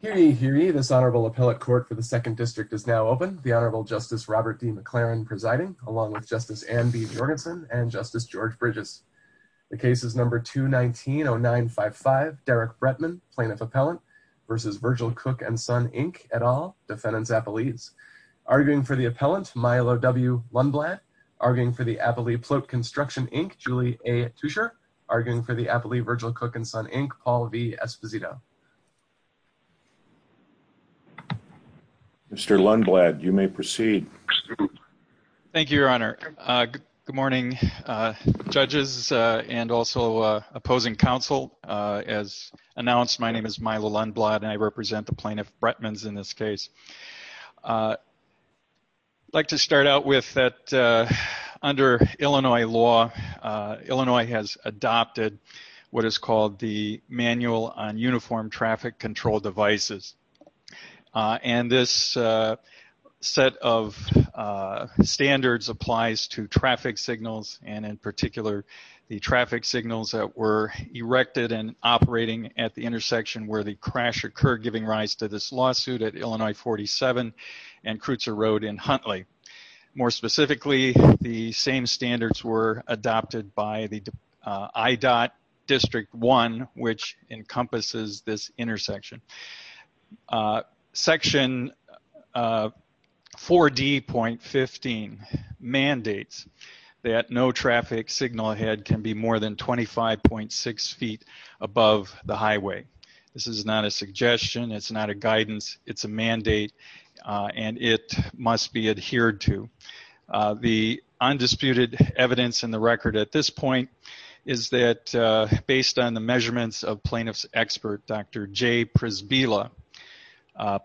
This Honorable Appellate Court for the 2nd District is now open. The Honorable Justice Robert D. McLaren presiding, along with Justice Anne B. Jordan and Justice George Bridges. The case is number 219-0955, Derek Bretman, plaintiff appellant, v. Virgil Cook and Son, Inc., et al., defendants appellees. Arguing for the appellant, Milo W. Lundblad. Arguing for the appellee, Plote Construction, Inc., Julie A. Tuescher. Arguing for the appellee, Virgil Cook and Son, Inc., Paul V. Esposito. Mr. Lundblad, you may proceed. Thank you, Your Honor. Good morning, judges and also opposing counsel. As announced, my name is Milo Lundblad and I represent the plaintiff, Bretmans, in this case. I'd like to start out with that under Illinois law, Illinois has adopted what is called the Manual on Uniform Traffic Control Devices. And this set of standards applies to traffic signals and in particular, the traffic signals that were erected and operating at the intersection where the crash occurred giving rise to this lawsuit at Illinois 47 and Kreutzer Road in Huntly. More specifically, the same standards were adopted by the IDOT District 1, which encompasses this intersection. Section 4D.15 mandates that no traffic signal ahead can be more than 25.6 feet above the highway. This is not a suggestion, it's not a guidance, it's a mandate and it must be adhered to. The undisputed evidence in the record at this point is that based on the measurements of plaintiff's expert, Dr. J. Prisbilla,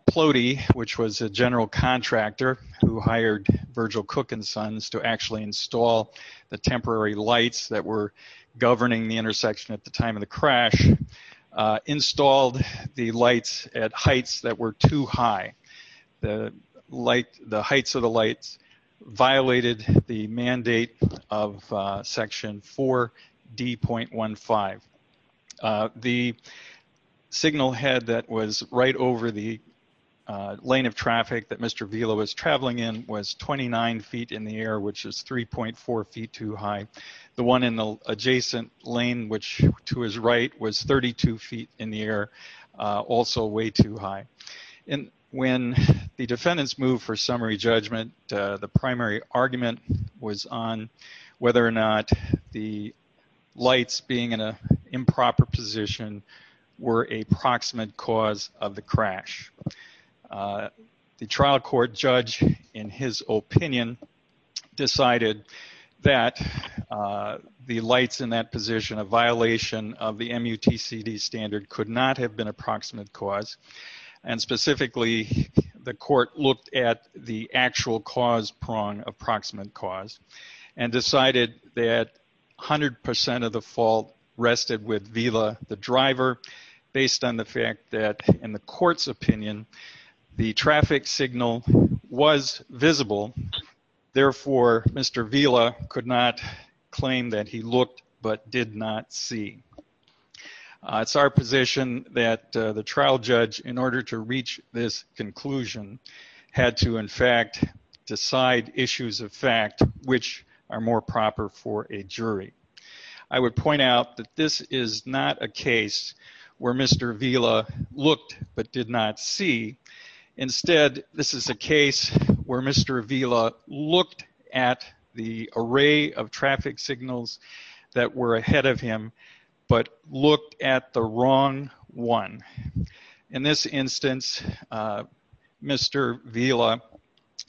Plote, which was a general contractor who hired Virgil Cook and Sons to actually install the temporary lights that were governing the intersection at the time of the crash, installed the lights at heights that were too high. The heights of the lights violated the mandate of Section 4D.15. The signal head that was right over the lane of traffic that Mr. Vila was traveling in was 29 feet in the air, which is 3.4 feet too high. The one in the adjacent lane to his right was 32 feet in the air, also way too high. When the defendants moved for summary judgment, the primary argument was on whether or not the lights being in an improper position were a proximate cause of the crash. The trial court judge, in his opinion, decided that the lights in that position, a violation of the MUTCD standard, could not have been a proximate cause, and specifically the court looked at the actual cause prong of proximate cause and decided that 100% of the fault rested with Vila, the driver, based on the fact that in the court's opinion, the traffic signal was visible. Therefore, Mr. Vila could not claim that he looked but did not see. It's our position that the trial judge, in order to reach this conclusion, had to, in fact, decide issues of fact which are more proper for a jury. I would point out that this is not a case where Mr. Vila looked but did not see. Instead, this is a case where Mr. Vila looked at the array of traffic signals that were ahead of him but looked at the wrong one. In this instance, Mr. Vila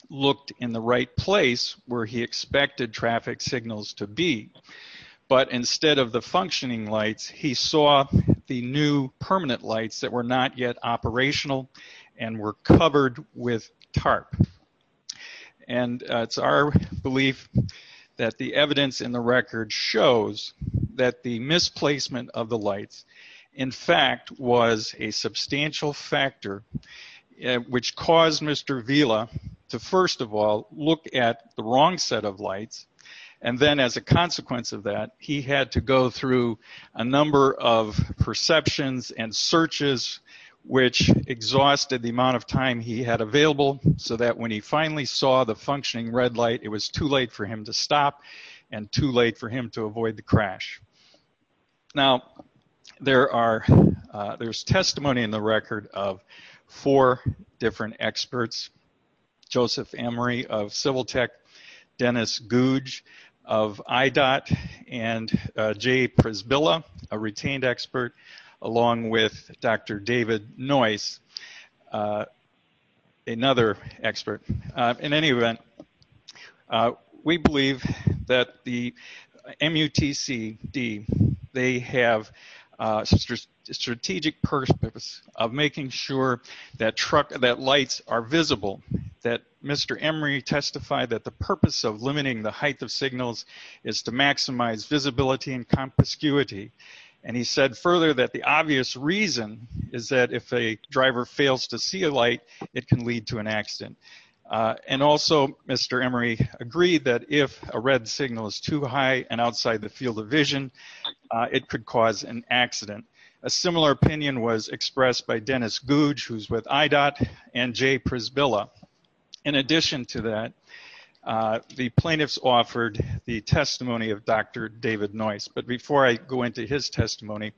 looked in the right place where he expected traffic signals to be, but instead of the functioning lights, he saw the new permanent lights that were not yet operational and were covered with tarp. It's our belief that the evidence in the record shows that the misplacement of the lights, in fact, was a look at the wrong set of lights. Then, as a consequence of that, he had to go through a number of perceptions and searches which exhausted the amount of time he had available so that when he finally saw the functioning red light, it was too late for him to stop and too late for him to avoid the crash. Now, there's testimony in the record of four different experts, Joseph Emery of Civil Tech, Dennis Gouge of IDOT, and Jay Prisbilla, a retained expert, along with Dr. David Noyce, another expert. In any they have a strategic purpose of making sure that lights are visible, that Mr. Emery testified that the purpose of limiting the height of signals is to maximize visibility and conspicuity. He said further that the obvious reason is that if a driver fails to see a light, it can lead to an accident. And also, Mr. Emery agreed that if a red signal is too high and outside the field of vision, it could cause an accident. A similar opinion was expressed by Dennis Gouge, who's with IDOT, and Jay Prisbilla. In addition to that, the plaintiffs offered the testimony of Dr. David Noyce. But before I go into his testimony,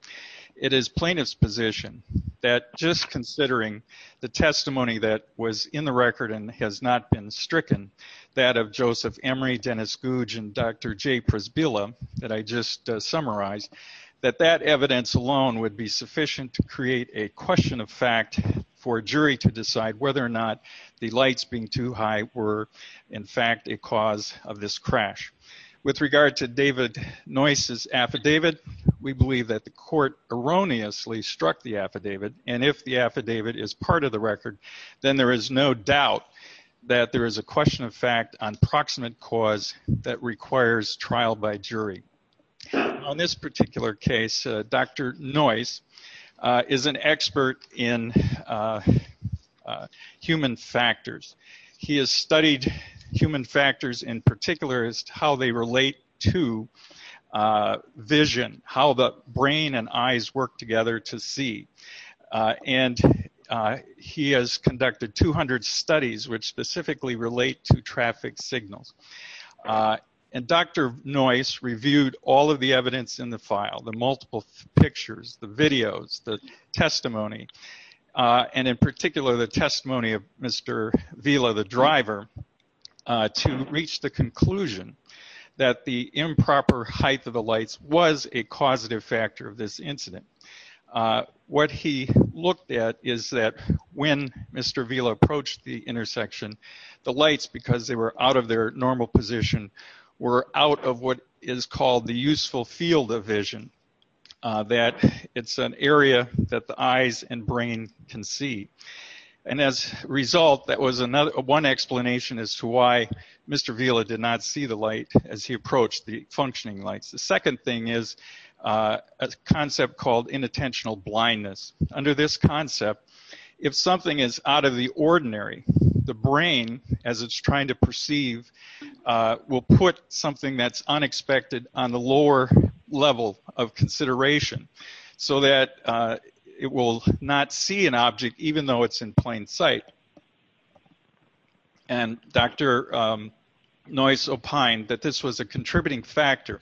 it is plaintiff's position that just considering the testimony that was in the record and has not been stricken, that of Joseph Emery, Dennis Gouge, and Dr. Jay Prisbilla that I just summarized, that that evidence alone would be sufficient to create a question of fact for a jury to decide whether or not the lights being too high were, in fact, a cause of this crash. With regard to David Noyce's affidavit, we believe that the record, then there is no doubt that there is a question of fact on proximate cause that requires trial by jury. On this particular case, Dr. Noyce is an expert in human factors. He has studied human factors in particular as to how they relate to vision, how the brain and eyes work together to see. And he has conducted 200 studies which specifically relate to traffic signals. And Dr. Noyce reviewed all of the evidence in the file, the multiple pictures, the videos, the testimony, and in particular the testimony of Mr. Vila, the driver, to reach the conclusion that the improper height of the lights was a causative factor of this incident. What he looked at is that when Mr. Vila approached the intersection, the lights, because they were out of their normal position, were out of what is called the useful field of vision, that it's an area that the eyes and brain can see. And as a result, that was one explanation as to why Mr. Vila did not see the light as he approached the functioning lights. The second thing is a concept called inattentional blindness. Under this concept, if something is out of the ordinary, the brain, as it's trying to perceive, will put something that's unexpected on the lower level of consideration so that it will not see an object even though it's in plain sight. And Dr. Noyce opined that this was a factor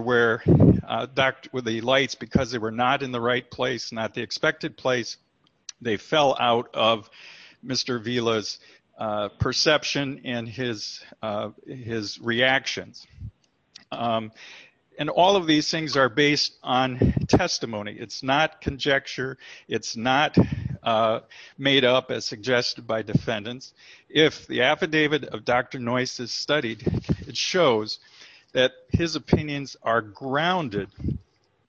where the lights, because they were not in the right place, not the expected place, they fell out of Mr. Vila's perception and his reactions. And all of these things are based on testimony. It's not conjecture. It's not made up as suggested by defendants. If the affidavit of Dr. Noyce is studied, it shows that his opinions are grounded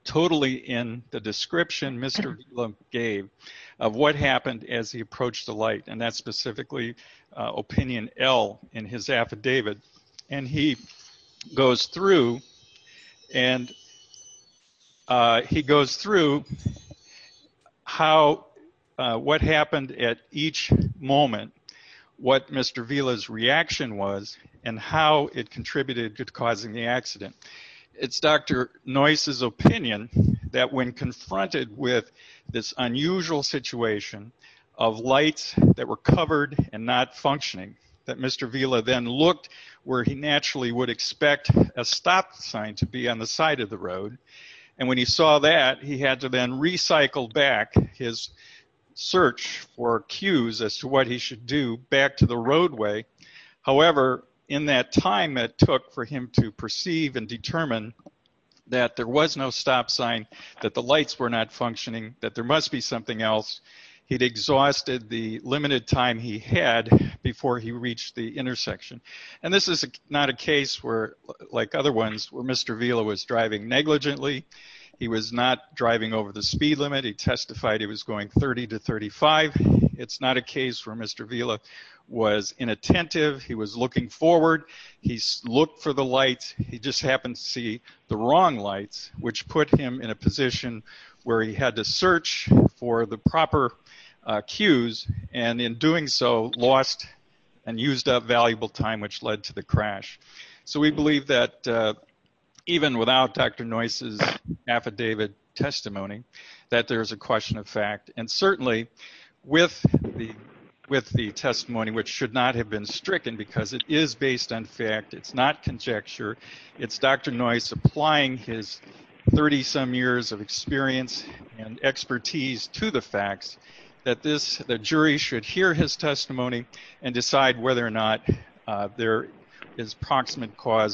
totally in the description Mr. Vila gave of what happened as he approached the light. And that's specifically Opinion L in his affidavit. And he goes through and he goes through what happened at each moment, what Mr. Vila's reaction was, and how it contributed to causing the accident. It's Dr. Noyce's opinion that when confronted with this unusual situation of lights that were covered and not functioning, that Mr. Vila then looked where he naturally would expect a stop sign to be on the side of the road. And when he saw that, he had to then recycle back his search or cues as to what he should do back to the roadway. However, in that time it took for him to perceive and determine that there was no stop sign, that the lights were not functioning, that there must be something else. He'd exhausted the limited time he had before he reached the intersection. And this is not a case where, like other ones, where Mr. Vila was driving negligently. He was not driving over the speed limit. He testified he was going 30 to 35. It's not a case where Mr. Vila was inattentive. He was looking forward. He looked for the lights. He just happened to see the wrong lights, which put him in a position where he had to search for the proper cues, and in doing so lost and used up valuable time, which led to the crash. So we know, even without Dr. Noyce's affidavit testimony, that there is a question of fact. And certainly with the testimony, which should not have been stricken because it is based on fact, it's not conjecture, it's Dr. Noyce applying his 30-some years of experience and expertise to the facts, that the jury should hear his testimony and decide whether or not there is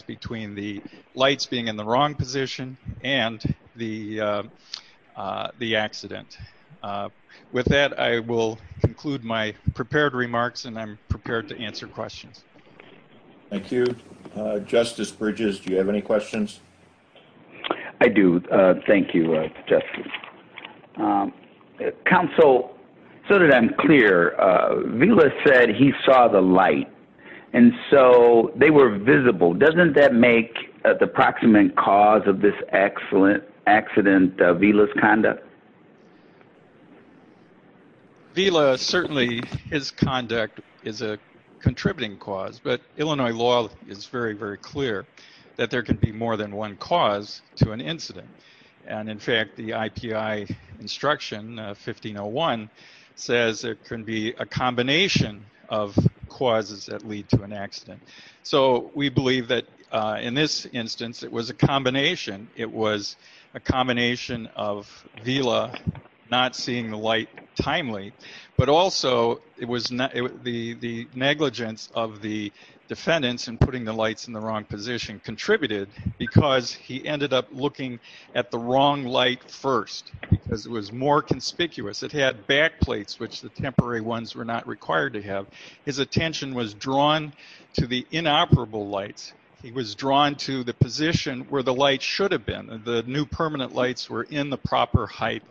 between the lights being in the wrong position and the accident. With that, I will conclude my prepared remarks, and I'm prepared to answer questions. Thank you. Justice Bridges, do you have any questions? I do. Thank you, Justice. Counsel, so that I'm clear, Vila said he saw the light. And so they were visible. Doesn't that make the proximate cause of this accident Vila's conduct? Vila, certainly his conduct is a contributing cause, but Illinois law is very, very clear that there can be more than one cause to an incident. And in fact, the IPI instruction, 1501, says it can be a combination of causes that lead to an accident. So we believe that in this instance, it was a combination. It was a combination of Vila not seeing the light timely, but also it was the negligence of the defendants in putting the lights in the wrong position contributed because he ended up looking at the wrong light first because it was more conspicuous. It had back plates, which the temporary ones were not required to have. His attention was drawn to the inoperable lights. He was drawn to the position where the light should have been. The new permanent lights were in the proper height.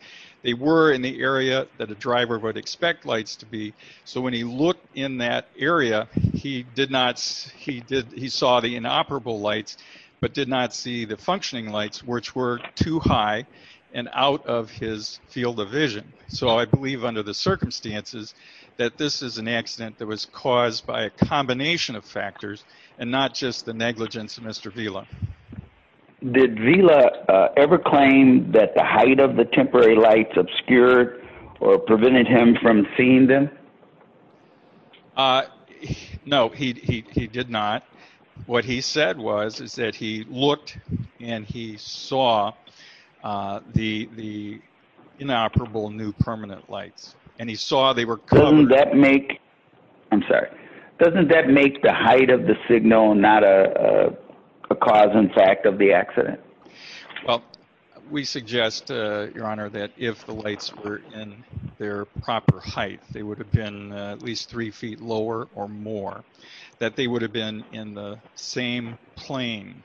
They were in the area that a driver would expect lights to be. So when he looked in that area, he saw the inoperable lights, but did not see the functioning lights, which were too high and out of his field of vision. So I believe under the circumstances that this is an accident that was caused by a combination of factors and not just the negligence of Mr. Vila. Did Vila ever claim that the height of the temporary lights obscured or prevented him from seeing them? No, he did not. What he said was that he looked and he saw the inoperable new permanent lights. Doesn't that make the height of the signal not a cause and effect of the accident? Well, we suggest, Your Honor, that if the lights were in their proper height, they would have been at least three feet lower or more, that they would have been in the same plane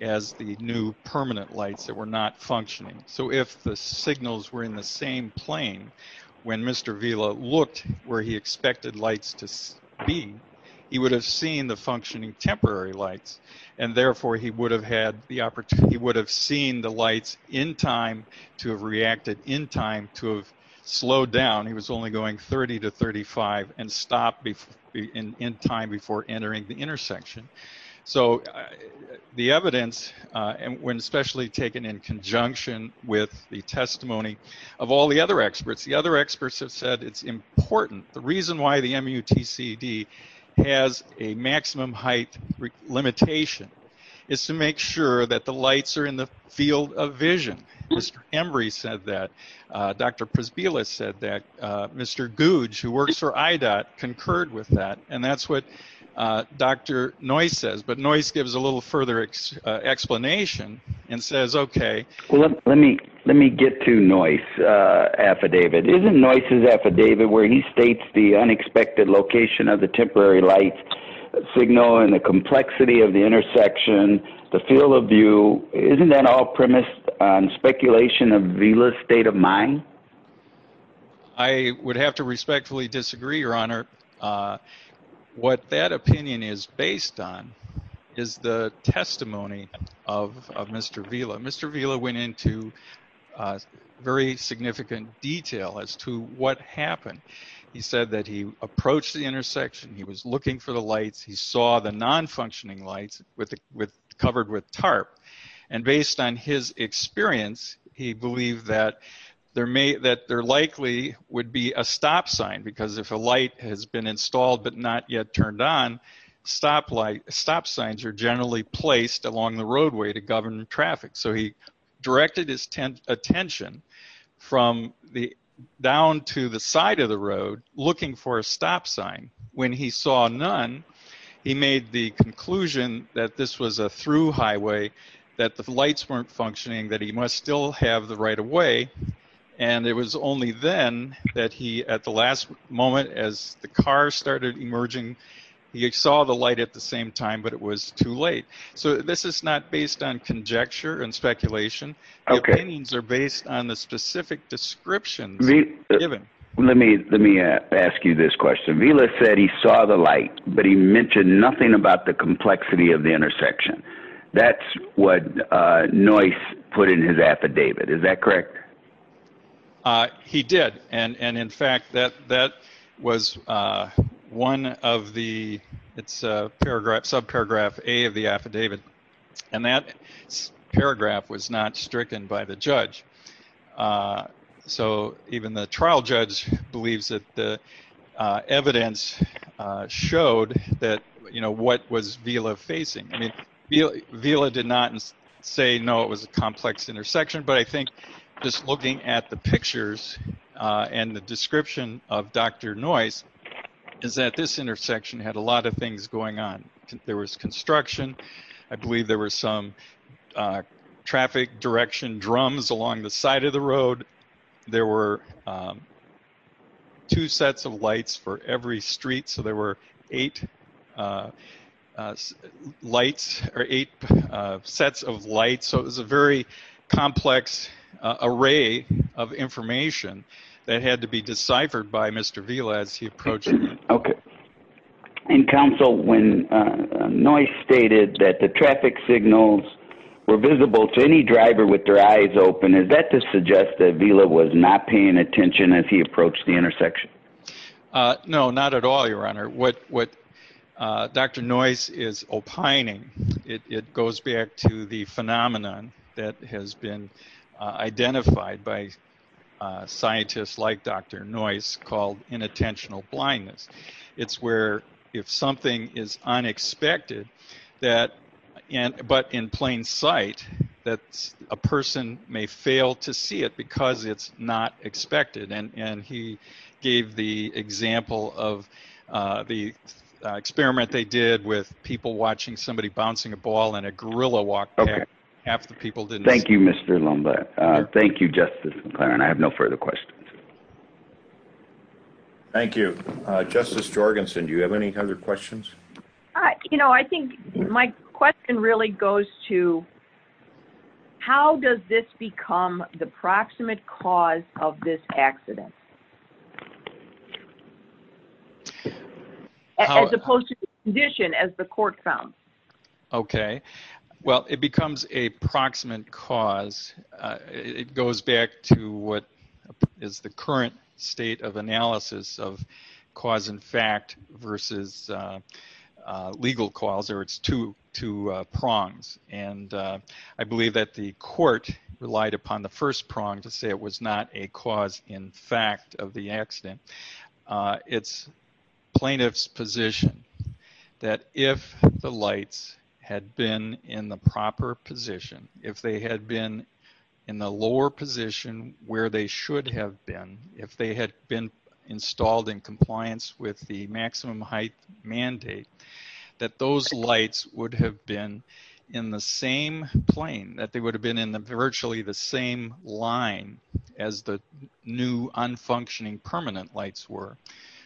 as the new permanent lights that were not functioning. So if the signals were in the same plane when Mr. Vila looked where he expected lights to be, he would have seen the functioning temporary lights, and therefore he would have seen the lights in time to have reacted in time to have slowed down. He was only going 30 to 35 and stopped in time before entering the intersection. So the evidence, when especially taken in conjunction with the testimony of all the other experts, the other experts have said it's important. The reason why the MUTCD has a maximum height limitation is to make sure that the lights are in the field of vision. Mr. Embry said that. Dr. Prisbilla said that. Mr. Gouge, who works for IDOT, concurred with that. And that's what Dr. Noyce says. But Noyce gives a little further explanation and says, okay. Well, let me get to Noyce's affidavit. Isn't Noyce's affidavit where he states the unexpected location of the temporary light signal and the complexity of the intersection, the field of view, isn't that all premised on speculation of Vila's state of mind? I would have to respectfully disagree, Your Honor. What that opinion is based on is the testimony of Mr. Vila. Mr. Vila went into very significant detail as to what happened. He said that he approached the intersection. He was looking for the lights. He saw the non-functioning lights covered with tarp. And based on his experience, he believed that there likely would be a stop sign because if a light has been installed but not yet turned on, stop signs are generally placed along the roadway to govern traffic. So he directed his attention from down to the side of the road looking for a stop sign. When he saw none, he made the conclusion that this was a through highway, that the lights weren't functioning, that he must still have the right-of-way. And it was only then that he, at the last moment, as the car started emerging, he saw the light at the same time, but it was too late. So this is not based on conjecture and speculation. Opinions are based on the specific description. Let me ask you this question. Vila said he saw the light, but he mentioned nothing about the complexity of the intersection. That's what Noyce put in his affidavit. Is that correct? He did. And in fact, that was one of the subparagraphs A of the affidavit, and that paragraph was not stricken by the judge. So even the trial judge believes that the evidence showed that, you know, what was Vila facing. Vila did not say, no, it was a complex intersection, but I think just looking at the pictures and the description of Dr. Noyce is that this intersection had a lot of things going on. There was construction. I believe there were some traffic direction drums along the side of the road. There were two sets of lights for every street, so there were eight sets of lights. So it was a very complex array of information that had to be deciphered by Mr. Vila as he approached it. Okay. And counsel, when Noyce stated that the traffic signals were visible to any driver with their eyes open, is that to suggest that Vila was not paying attention as he approached the intersection? No, not at all, Your Honor. What Dr. Noyce is opining, it goes back to the phenomenon that has been identified by scientists like Dr. Noyce called inattentional blindness. It's where if something is unexpected, but in plain sight, that a person may fail to see it because it's not expected. And he gave the example of the experiment they did with people watching somebody bouncing a ball and a gorilla walked back. Half the people didn't. Thank you, Mr. Lomba. Thank you, Justice McClaren. I have no further questions. Thank you. Justice Jorgensen, do you have any other questions? You know, I think my question really goes to how does this become the proximate cause of this accident, as opposed to the condition as the court found? Okay. Well, it becomes a proximate cause. It goes back to what is the current state of analysis of cause and fact versus legal cause, or its two prongs. And I believe that the court relied upon the first prong to say it was not a cause in fact of the accident. It's plaintiff's position that if the lights had been in the proper position, if they had been in the lower position where they should have been, if they had been installed in compliance with the maximum height mandate, that those lights would have been in the same plane, that they would have been in virtually the same line as the new unfunctioning permanent lights were.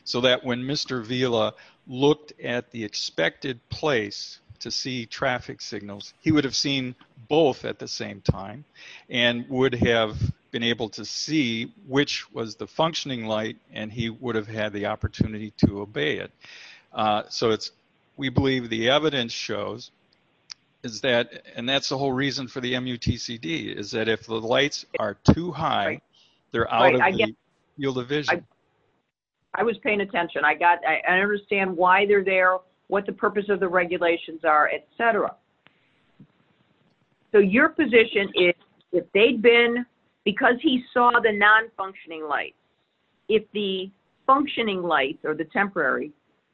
So that when Mr. Vila looked at the expected place to see traffic signals, he would have seen both at the same time and would have been able to see which was the functioning light and he would have had the opportunity to obey it. So we believe the evidence shows that, and that's the whole reason for the MUTCD, is that if the lights are too high, they're out of the field of vision. I was paying attention. I understand why they're there, what the purpose of the regulations are, etc. So your position is if they'd been, because he saw the non-functioning lights, if the functioning lights or the temporary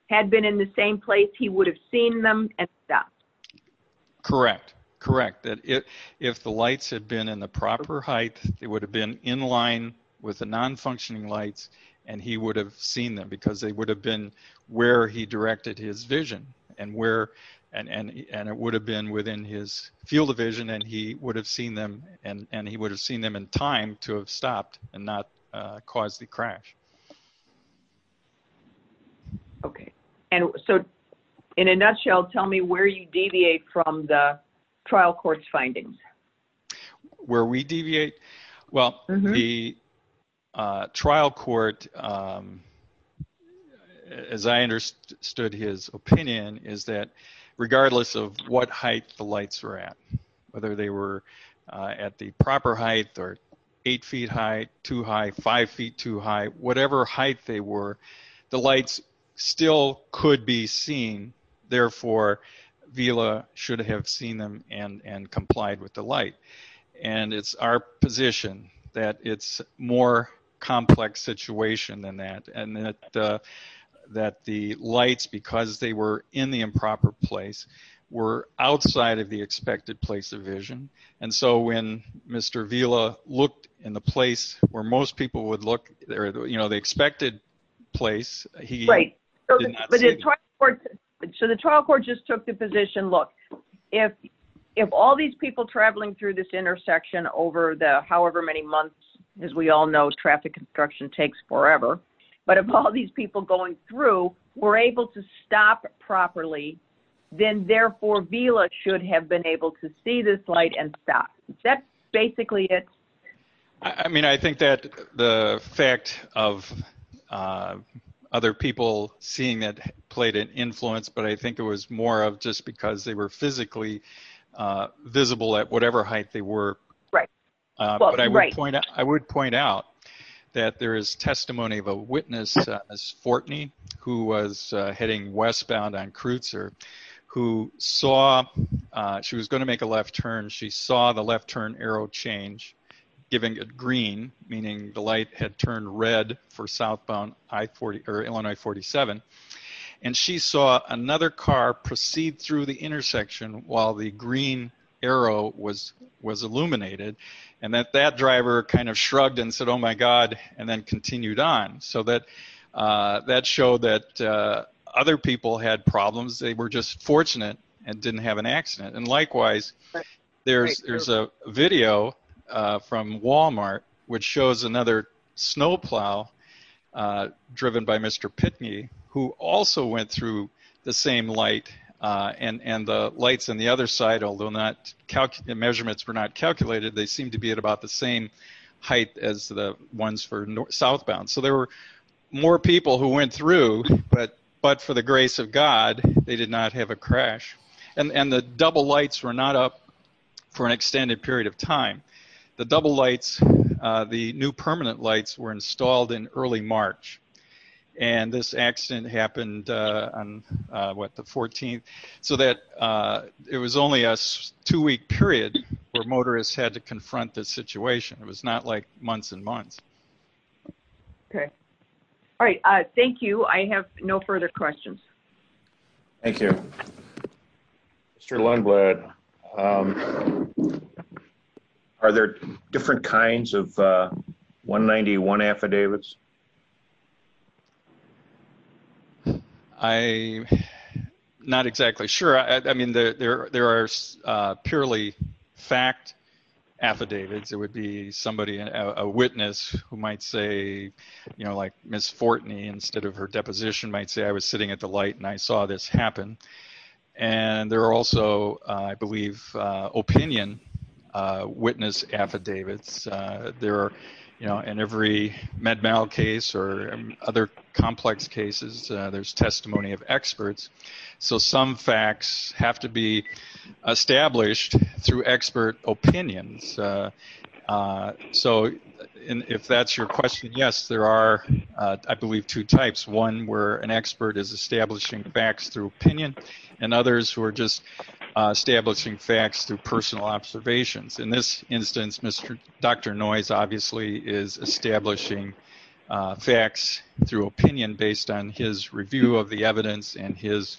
had been in the same place, he would have seen them and stopped. Correct, correct. If the lights had been in the proper height, it would have been in line with the non-functioning lights and he would have seen them because they would have been where he directed his vision and it would have been within his field of vision and he would have seen them and he would have seen them in time to have stopped and not caused the crash. Okay. So in a nutshell, tell me where you deviate from the trial court's findings. Where we deviate? Well, the trial court, as I understood his opinion, is that regardless of what height the lights were at, whether they were at the proper height or eight feet high, too high, five feet too high, whatever height they were, the lights still could be seen. Therefore, VILA should have seen them and complied with the light. And it's our position that it's a more complex situation than that. And that the lights, because they were in the improper place, were outside of the expected place of vision. And so when Mr. VILA looked in the place where most people would look, you know, the expected place... So the trial court just took the position, look, if all these people traveling through this intersection over the however many months, as we all know traffic construction takes forever, but if all these people going through were able to stop properly, then therefore VILA should have been able to see this light and stop. That's basically it. I mean, I think that the fact of other people seeing it played an influence, but I think it was more of just because they were physically visible at whatever height they were. I would point out that there is testimony of a left turn. She saw the left turn arrow change, giving it green, meaning the light had turned red for southbound I-47. And she saw another car proceed through the intersection while the green arrow was illuminated. And that that driver kind of shrugged and said, oh my God, and then continued on. So that showed that other people had problems. They were just fortunate and didn't have an accident. And likewise, there's a video from Walmart, which shows another snowplow driven by Mr. Pitney, who also went through the same light and the lights on the other side, although measurements were not calculated, they seem to be at about the same height as the ones for southbound. So there were more people who went through, but for the grace of God, they did not have a crash. And the double lights were not up for an extended period of time. The double lights, the new permanent lights were installed in early March. And this accident happened on what, the 14th? So that it was only a two-week period where motorists had to confront the situation. It was not like months and months. Okay. All right. Thank you. I have no further questions. Thank you. Mr. Longblood, are there different kinds of 191 affidavits? I'm not exactly sure. I mean, there are purely fact affidavits. It would be somebody, a witness who might say, you know, like Ms. Fortney, instead of her deposition, might say, I was sitting at the light and I saw this happen. And there are also, I believe, opinion witness affidavits. There are, you know, in every MedMal case or other complex cases, there's testimony of experts. So some facts have to be established through expert opinions. So if that's your question, yes, there are, I believe, two types. One where an expert is establishing facts through opinion and others who are just establishing facts through personal observations. In this instance, Dr. Noyes obviously is establishing facts through opinion based on his review of the evidence and his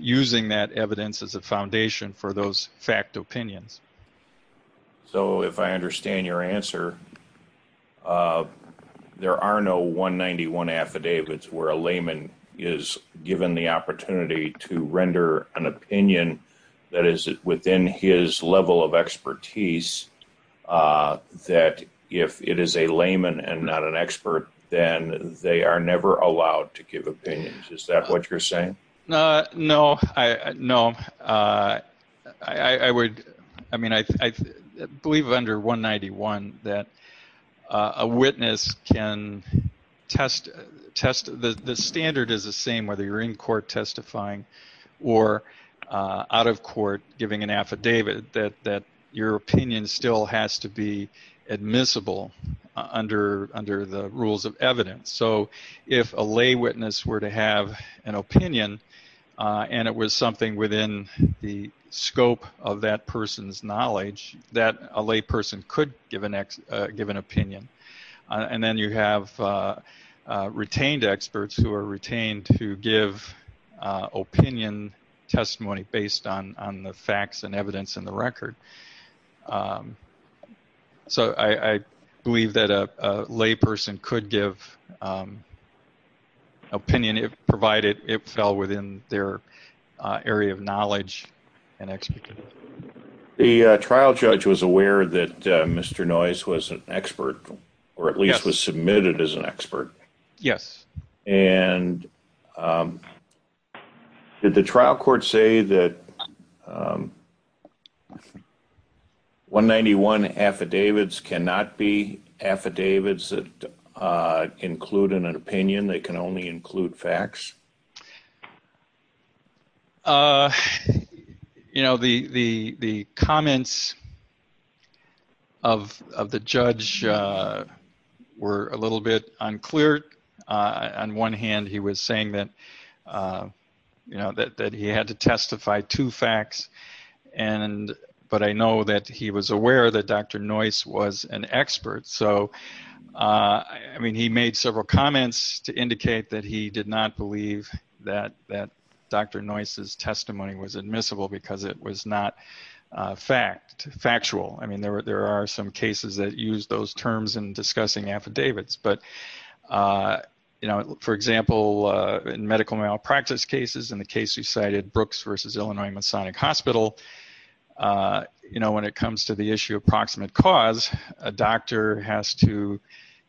using that evidence as a foundation for those opinions. So if I understand your answer, there are no 191 affidavits where a layman is given the opportunity to render an opinion that is within his level of expertise that if it is a layman and not an expert, then they are never allowed to give opinions. Is that what you're saying? No, I would, I mean, I believe under 191 that a witness can test, the standard is the same whether you're in court testifying or out of court giving an affidavit that your opinion still has to admissible under the rules of evidence. So if a lay witness were to have an opinion and it was something within the scope of that person's knowledge that a lay person could give an opinion and then you have retained experts who are retained to give opinion testimony based on the evidence in the record. So I believe that a lay person could give opinion if provided it fell within their area of knowledge and expertise. The trial judge was aware that Mr. Noyes was an expert or at least was submitted as an expert. Yes. And did the trial court say that 191 affidavits cannot be affidavits that include an opinion, they can only include facts? You know, the comments of the judge were a little bit unclear. On one hand, he was saying that you know, that he had to testify to facts and, but I know that he was aware that Dr. Noyes was an expert. So, I mean, he made several comments to indicate that he did not believe that Dr. Noyes' testimony was admissible because it was not factual. I mean, there are some cases that use those terms in discussing affidavits, but, you know, for example, in medical malpractice cases, in the case we cited, Brooks versus Illinois Masonic Hospital, you know, when it comes to the issue of proximate cause, a doctor has to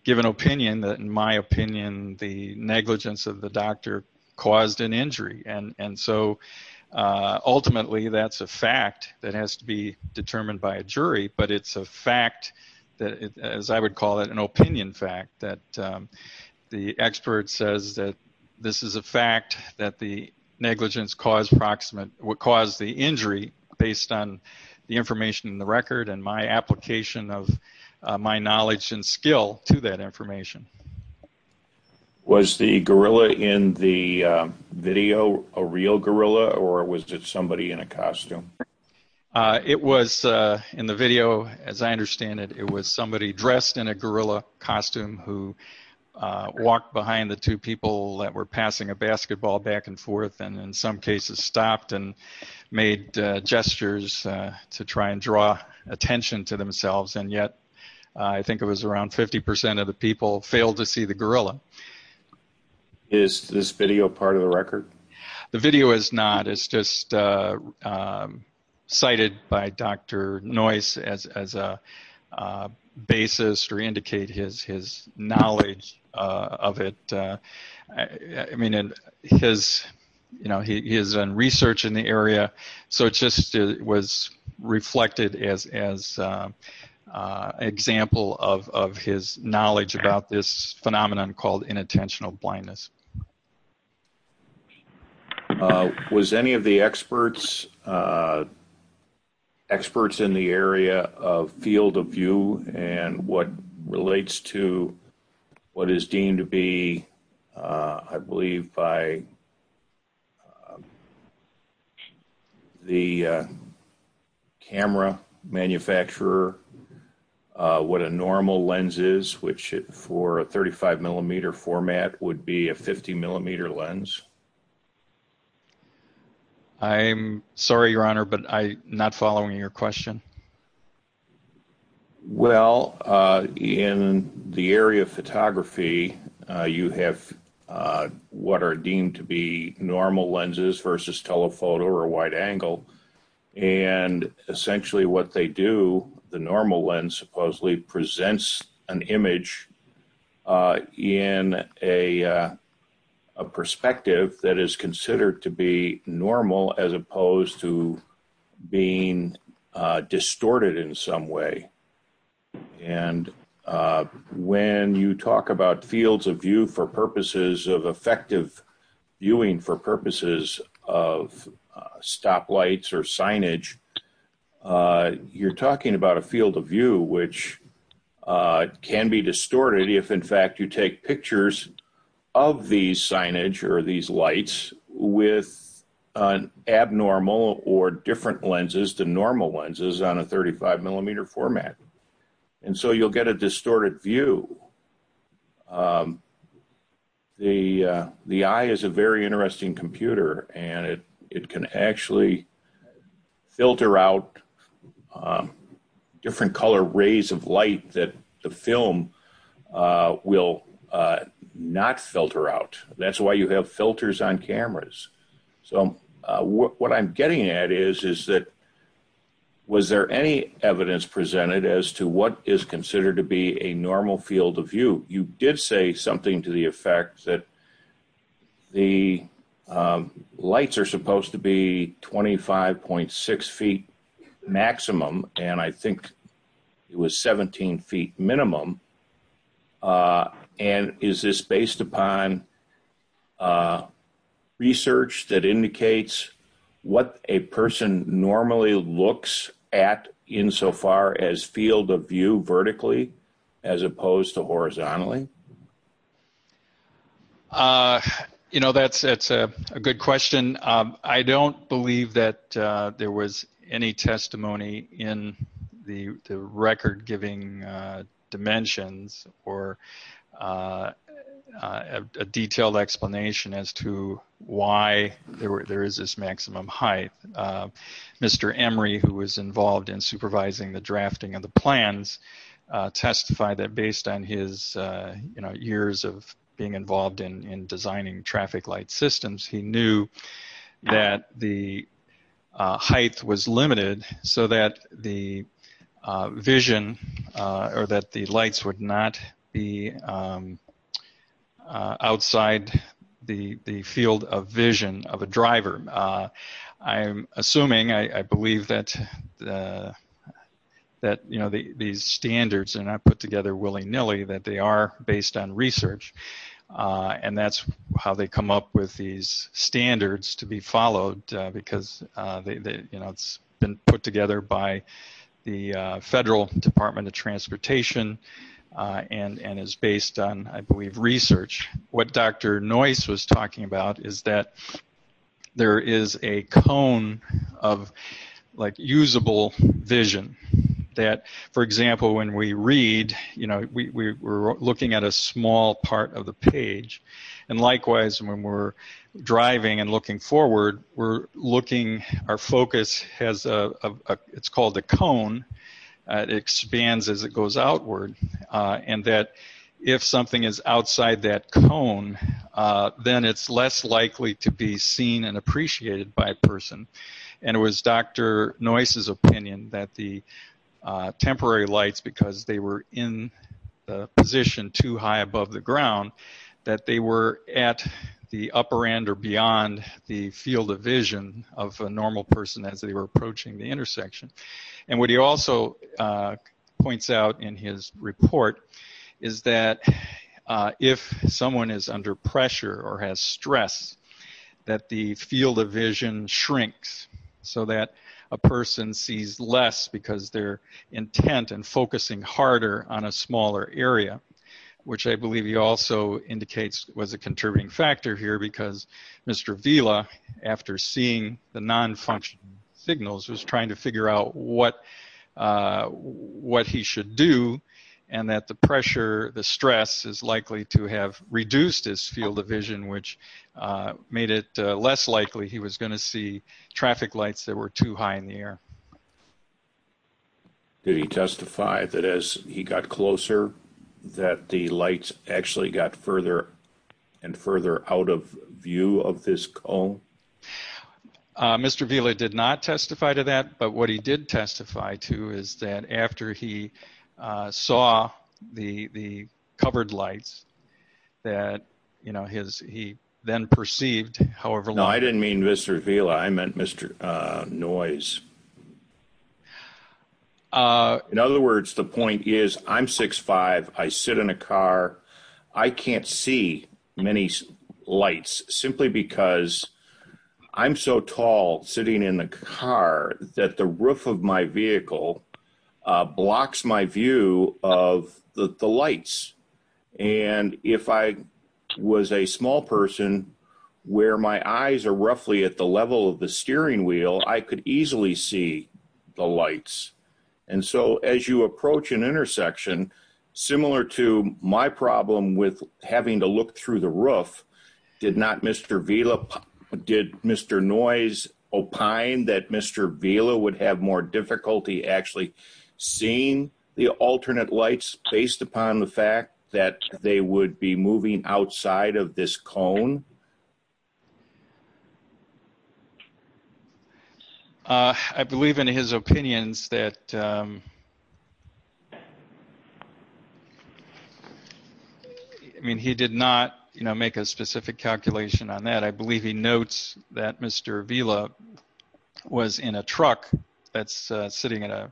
give an opinion that in my opinion, the negligence of the doctor caused an injury. And so, ultimately, that's a fact that has to be as I would call it, an opinion fact that the expert says that this is a fact that the negligence caused the injury based on the information in the record and my application of my knowledge and skill to that information. Was the gorilla in the video a real gorilla or was it somebody in a costume? It was, in the video, as I understand it, it was somebody dressed in a gorilla costume who walked behind the two people that were passing a basketball back and forth and in some cases stopped and made gestures to try and draw attention to themselves and yet I think it was around 50% of the people failed to see the gorilla. Is this video part of the record? The video is not. It's just cited by Dr. Noyce as a basis to indicate his knowledge of it. I mean, he is in research in the area, so it just was reflected as an example of his knowledge about this phenomenon called inattentional blindness. Was any of the experts in the area of field of view and what relates to what is deemed to be, I believe, by the camera manufacturer what a normal lens is, which for a 35 millimeter format would be a 50 millimeter lens? I'm sorry, your honor, but I'm not following your question. Well, in the area of photography, you have what are deemed to be normal lenses versus telephoto or wide angle and essentially what they do, the normal lens supposedly presents an image in a perspective that is considered to be normal as opposed to being distorted in some way and when you talk about fields of view for purposes of effective viewing for purposes of stoplights or signage, you're talking about a field of view which can be distorted if in fact you take pictures of these signage or these lights with an abnormal or different lenses, the normal lenses on a 35 millimeter format and so you'll get a distorted view. The eye is a very interesting computer and it can actually filter out different color rays of light that the film will not filter out. That's why you have filters on cameras. So what I'm getting at is that was there any evidence presented as to what is considered to be a normal field of view? You did say something to the effect that the lights are supposed to be 25.6 feet maximum and I think it was 17 feet minimum and is this based upon research that indicates what a person normally looks at insofar as field of view vertically as opposed to horizontally? You know that's a good question. I don't believe that there was any testimony in the explanation as to why there is this maximum height. Mr. Emery who was involved in supervising the drafting of the plans testified that based on his years of being involved in designing traffic light systems, he knew that the height was limited so that the vision or that the lights would not be outside the field of vision of a driver. I'm assuming, I believe that that you know these standards are not put together willy-nilly, that they are based on research and that's how they come up with these standards to be followed because you know it's been put together by the federal department of transportation and is based on I believe research. What Dr. Noyce was talking about is that there is a cone of like usable vision that for example when we read you know we're looking at a small part of the page and likewise when we're driving and looking forward we're looking our focus has a it's called a cone that expands as it goes outward and that if something is outside that cone then it's less likely to be seen and appreciated by a person and it was Dr. Noyce's opinion that the upper end or beyond the field of vision of a normal person as they were approaching the intersection and what he also points out in his report is that if someone is under pressure or has stress that the field of vision shrinks so that a person sees less because their intent and factor here because Mr. Vila after seeing the non-function signals is trying to figure out what what he should do and that the pressure the stress is likely to have reduced his field of vision which made it less likely he was going to see traffic lights that were too high in the air. Did he testify that as he got closer that the lights actually got further and further out of view of this cone? Mr. Vila did not testify to that but what he did testify to is that after he saw the the covered lights that you know his he then perceived however. I didn't mean Mr. Vila I meant Dr. Noyce. In other words the point is I'm six five I sit in a car I can't see many lights simply because I'm so tall sitting in the car that the roof of my vehicle blocks my view of the the lights and if I was a small person where my eyes are roughly at the level of the steering wheel I could easily see the lights and so as you approach an intersection similar to my problem with having to look through the roof did not Mr. Vila did Mr. Noyce opine that Mr. Vila would have more difficulty actually seeing the alternate lights based upon the fact that they would be I believe in his opinions that I mean he did not you know make a specific calculation on that I believe he notes that Mr. Vila was in a truck that's sitting at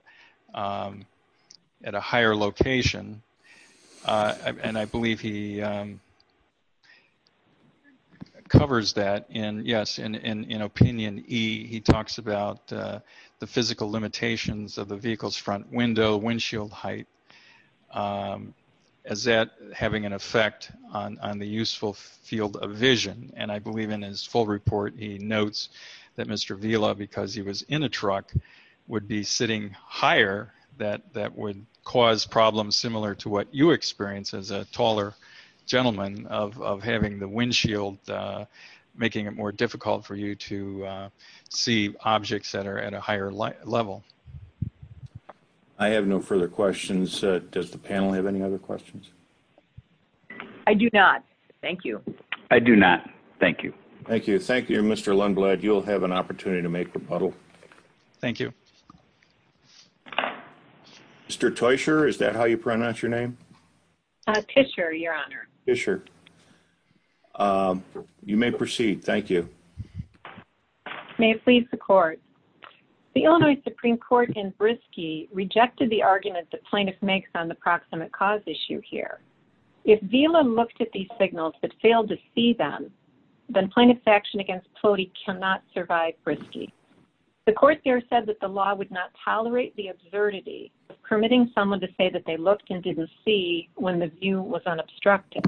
a higher location and I believe he covers that in yes in opinion E he talks about the physical limitations of the vehicle's front window windshield height as that having an effect on the useful field of vision and I believe in his full report he notes that Mr. Vila because he was in a truck would be sitting higher that that would cause problems similar to what you experience as a taller gentleman of having the making it more difficult for you to see objects that are at a higher level I have no further questions does the panel have any other questions I do not thank you I do not thank you thank you thank you Mr. Lundblad you'll have an opportunity to make the puddle thank you Mr. Teuscher is that how you pronounce your name Fisher your honor Fisher you may proceed thank you may it please the court the Illinois Supreme Court in Brisky rejected the argument that plaintiff makes on the proximate cause issue here if Vila looked at these signals but failed to see them then plaintiff's action against Flody cannot survive Brisky the court there said that the law would not tolerate the absurdity permitting someone to say that they looked and didn't see when the view was unobstructed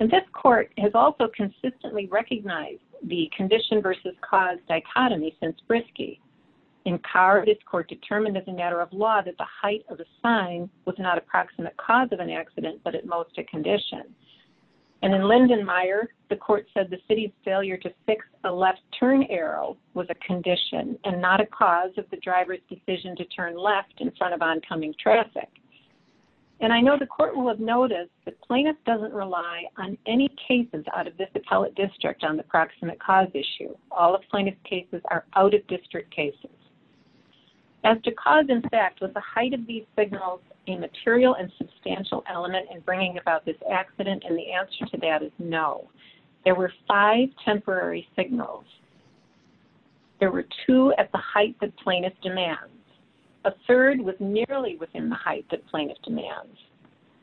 and this court has also consistently recognized the condition versus cause dichotomy since Brisky in power of this court determined as a matter of law that the height of the sign was not approximate cause of an accident but at most a condition and in Linden Meyer the court said the city's failure to fix a left turn arrow was a condition and not a cause of the driver's decision to turn left in front of oncoming traffic and I know the court will have noticed that plaintiff doesn't rely on any cases out of this appellate district on the proximate cause issue all of plaintiff cases are out of district cases as to cause in fact with the height of these signals a material and substantial element in bringing about this accident and the answer to that is no there were five temporary signals there were two at the height that plaintiff demands a third was nearly within the height that plaintiff demands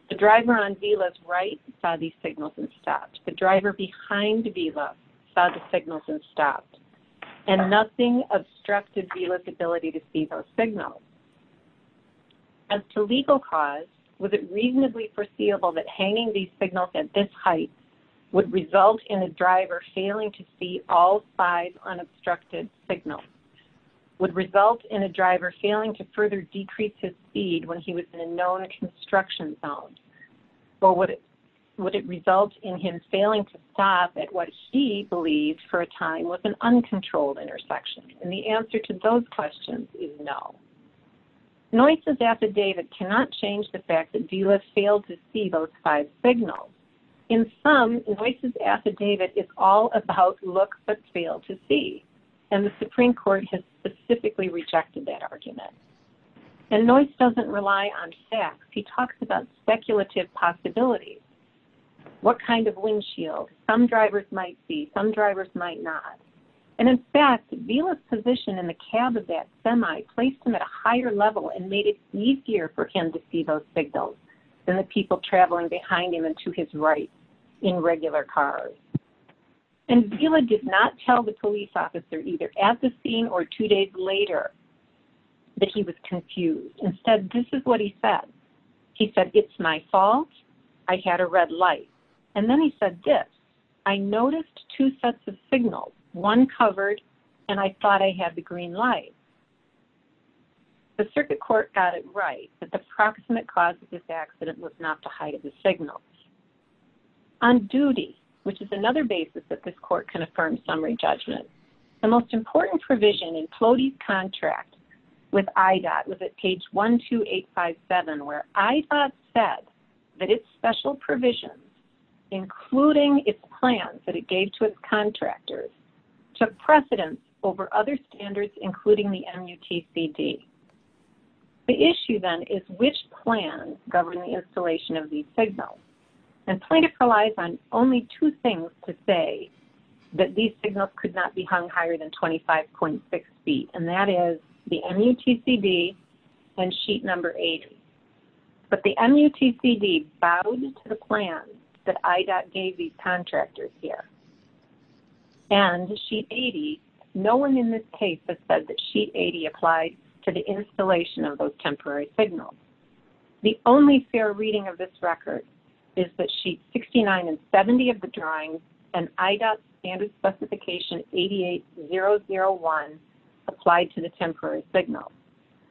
the driver on v-lift right saw these signals and stopped the driver behind the v-lift saw the signals and stopped and nothing obstructed v-lift's ability to see those signals as to legal cause was it reasonably foreseeable that hanging these signals at this height would result in a driver failing to see all five unobstructed signals would result in a driver failing to further decrease his speed when he was in a known construction zone or would it would it result in him failing to stop at what he believes for a time was an uncontrolled intersection and the answer to those questions is no noises affidavit cannot change the fact that v-lift failed to see those five signals in some voices affidavit is all about look but fail to see and the supreme court has specifically rejected that argument and noise doesn't rely on facts he talks about speculative possibilities what kind of windshield some drivers might see some drivers might not and in fact v-lift's position in the cab of that semi placed him at a higher level and made it easier for him to see those signals than the people traveling behind him and to his right in regular cars and v-lift did not tell the police officer either at the scene or two days later that he was confused instead this is what he said he said it's my fault i had a red light and then he said this i noticed two sets of signals one covered and i thought i had the green light the circuit court got it right that the proximate cause of this accident was not the height of the signal on duty which is another basis that this court can affirm summary judgment the most important provision in clody's contract with idot was at page one two eight five seven where i thought said that its special provisions including its plans that it gave to its contractors took precedence over other standards including the mutcd the issue then is which plans govern the installation of these signals and plaintiff relies on only two things to say that these signals could not be hung higher than 25.6 feet and that is the mutcd and sheet number 80 but the mutcd bowed to the plan that idot gave these contractors here and sheet 80 no one in this case has said that sheet 80 applied to the installation of those temporary signals the only fair reading of this record is that sheet 69 and 70 of the drawings and idot standard specification 88 001 applied to the temporary signal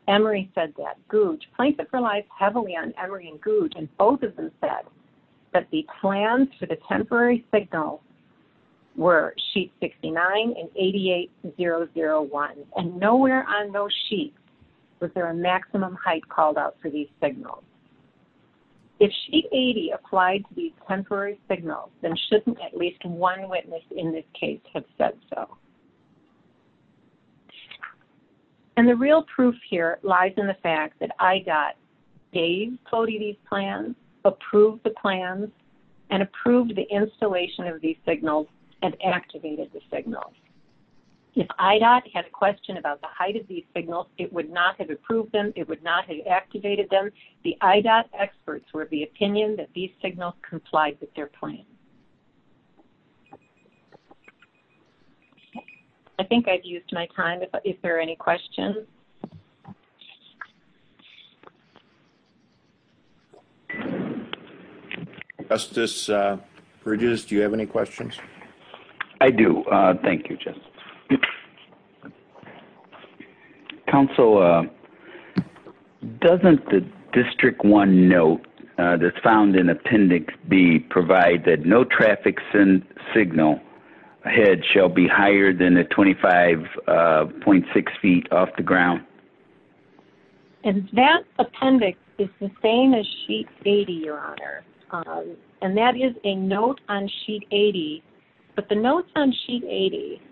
emory said that googe plaintiff relies heavily on emory and googe and both of them said that the plans for the temporary signal were sheet 69 and 88 001 and nowhere on those sheets was there a maximum height called out for these signals if sheet 80 applied to these temporary signals then shouldn't at least one witness in this case have said so and the real proof here lies in the fact that idot gave cody these plans approved the plans and approved the installation of these signals and activated the signals if idot had a question about the height of these signals it would not have approved them it would not have activated them the idot experts were of the opinion that these signals complied with their plans okay i think i've used my time is there any questions justice uh produce do you have any questions i do uh thank you just council uh doesn't the district one note uh that's found in appendix b provide that no traffic send signal ahead shall be higher than the 25.6 feet off the ground and that appendix is the same as sheet 80 your honor and that is a note on sheet 80 but the notes on sheet 80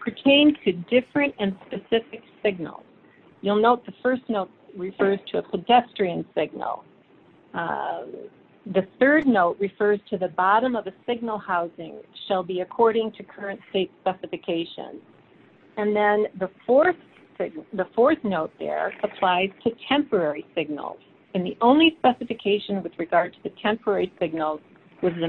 pertain to different and specific signals you'll note the first note refers to a pedestrian signal the third note refers to the bottom of a signal housing shall be according to current state specifications and then the fourth the fourth note there applies to temporary signals and the only specification with regard to the temporary signals is the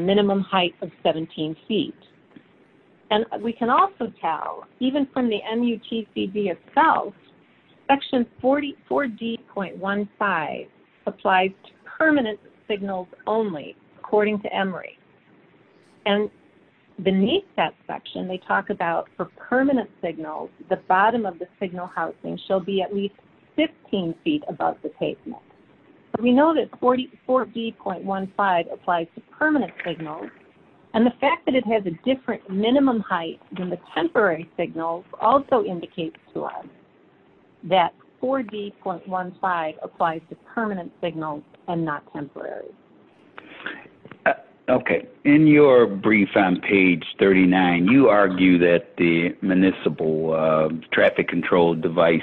4d.15 applies to permanent signals only according to emory and beneath that section they talk about for permanent signals the bottom of the signal housing shall be at least 15 feet above the pavement but we know that 44 d.15 applies to permanent signals and the fact that it has a minimum height than the temporary signals also indicates to us that 4d.15 applies to permanent signals and not temporary okay in your brief on page 39 you argue that the municipal traffic control device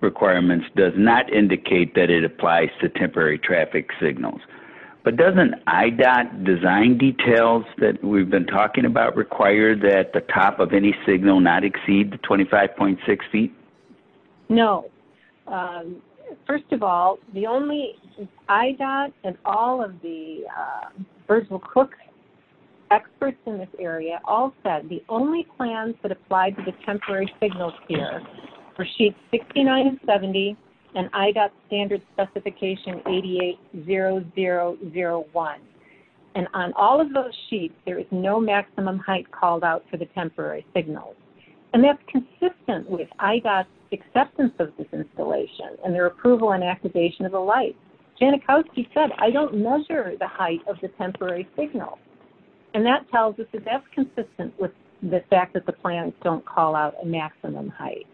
requirements does not indicate that it applies to temporary traffic signals but doesn't IDOT design details that we've been talking about require that the top of any signal not exceed the 25.6 feet no first of all the only IDOT and all of the virtual cooks experts in this area all said the only plans that apply to the temporary signals for sheet 6970 and IDOT standard specification 880001 and on all of those sheets there is no maximum height called out for the temporary signals and that's consistent with IDOT's acceptance of this installation and their approval and activation of the light janikowski said i don't measure the height of the temporary signal and that tells us that that's height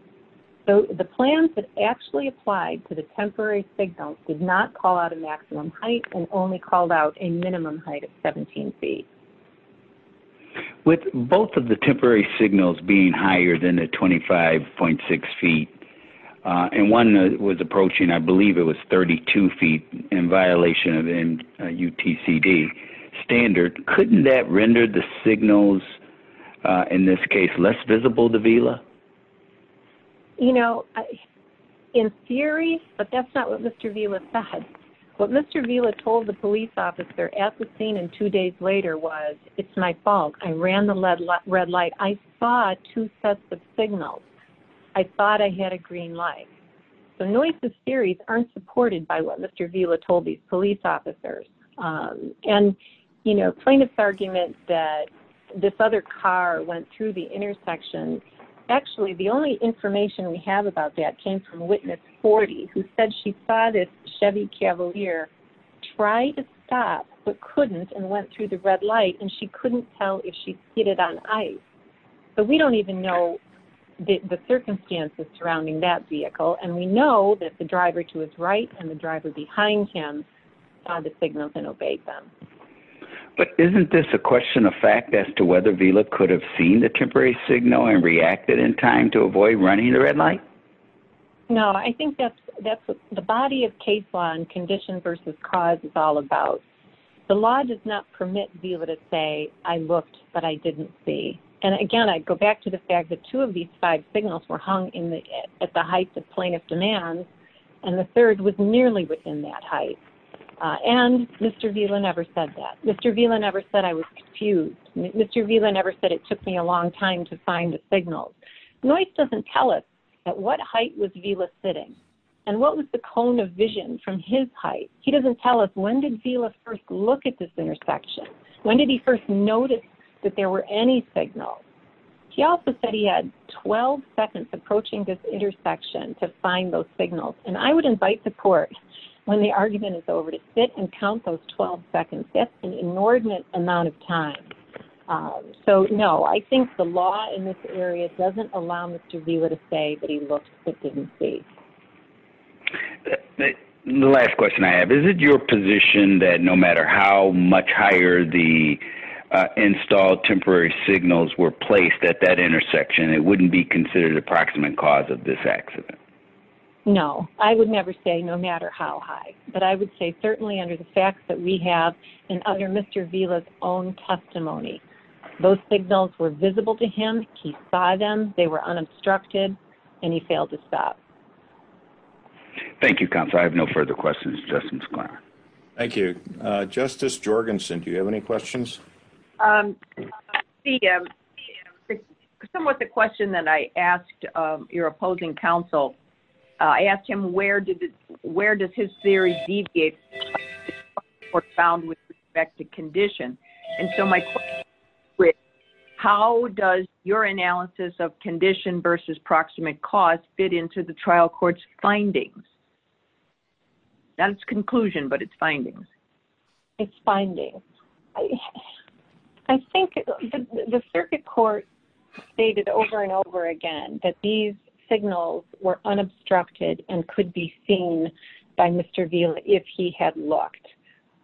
so the plans that actually applied to the temporary signals did not call out a maximum height and only called out a minimum height of 17 feet with both of the temporary signals being higher than the 25.6 feet and one that was approaching i believe it was 32 feet in violation and utcd standard couldn't that render the signals in this case less visible to vila you know in theory but that's not what mr vila said what mr vila told the police officer at the scene and two days later was it's my fault i ran the lead red light i saw two sets of signals i thought i had a green light so noises theories aren't supported by what mr vila told these police officers and you know plaintiff's argument that this other car went through the intersection actually the only information we have about that came from witness 40 who said she saw this chevy cavalier try to stop but couldn't and went through the red light and she couldn't tell if she hit it on ice so we don't even know the circumstances surrounding that vehicle and we know that the other signals and obeyed them but isn't this a question of fact as to whether vila could have seen the temporary signal and reacted in time to avoid running the red light no i think that's that's the body of case law and condition versus cause is all about the law does not permit vila to say i looked but i didn't see and again i go back to the fact that two of these five signals were hung in the at the height of plaintiff demands and the third was nearly within that height and mr vila never said that mr vila never said i was confused mr vila never said it took me a long time to find the signal noise doesn't tell us at what height was vila sitting and what was the cone of vision from his height he doesn't tell us when did vila first look at this intersection when did he first notice that there were any signals he also said he had 12 seconds approaching this intersection to find those signals and i would invite the court when the argument is over to sit and count those 12 seconds that's an inordinate amount of time so no i think the law in this area doesn't allow mr vila to say that he looked but didn't see okay the last question i have is it your position that no matter how much higher the installed temporary signals were placed at that intersection it wouldn't be considered approximate cause of this accident no i would never say no matter how high but i would say certainly under the facts that we have in other mr vila's own testimony those signals were visible to him he saw them they were unobstructed and he failed to stop thank you counsel i have no further questions justice clark thank you uh justice jorgensen do you have any questions um i see um somewhat the question that i asked um your opposing counsel i asked him where did where does his theory deviate profound with respect to condition and so my quick how does your analysis of condition versus proximate cause fit into the trial court's findings that's conclusion but it's findings it's finding i think the circuit court stated over and over again that these signals were unobstructed and could be seen by mr vila if he had looked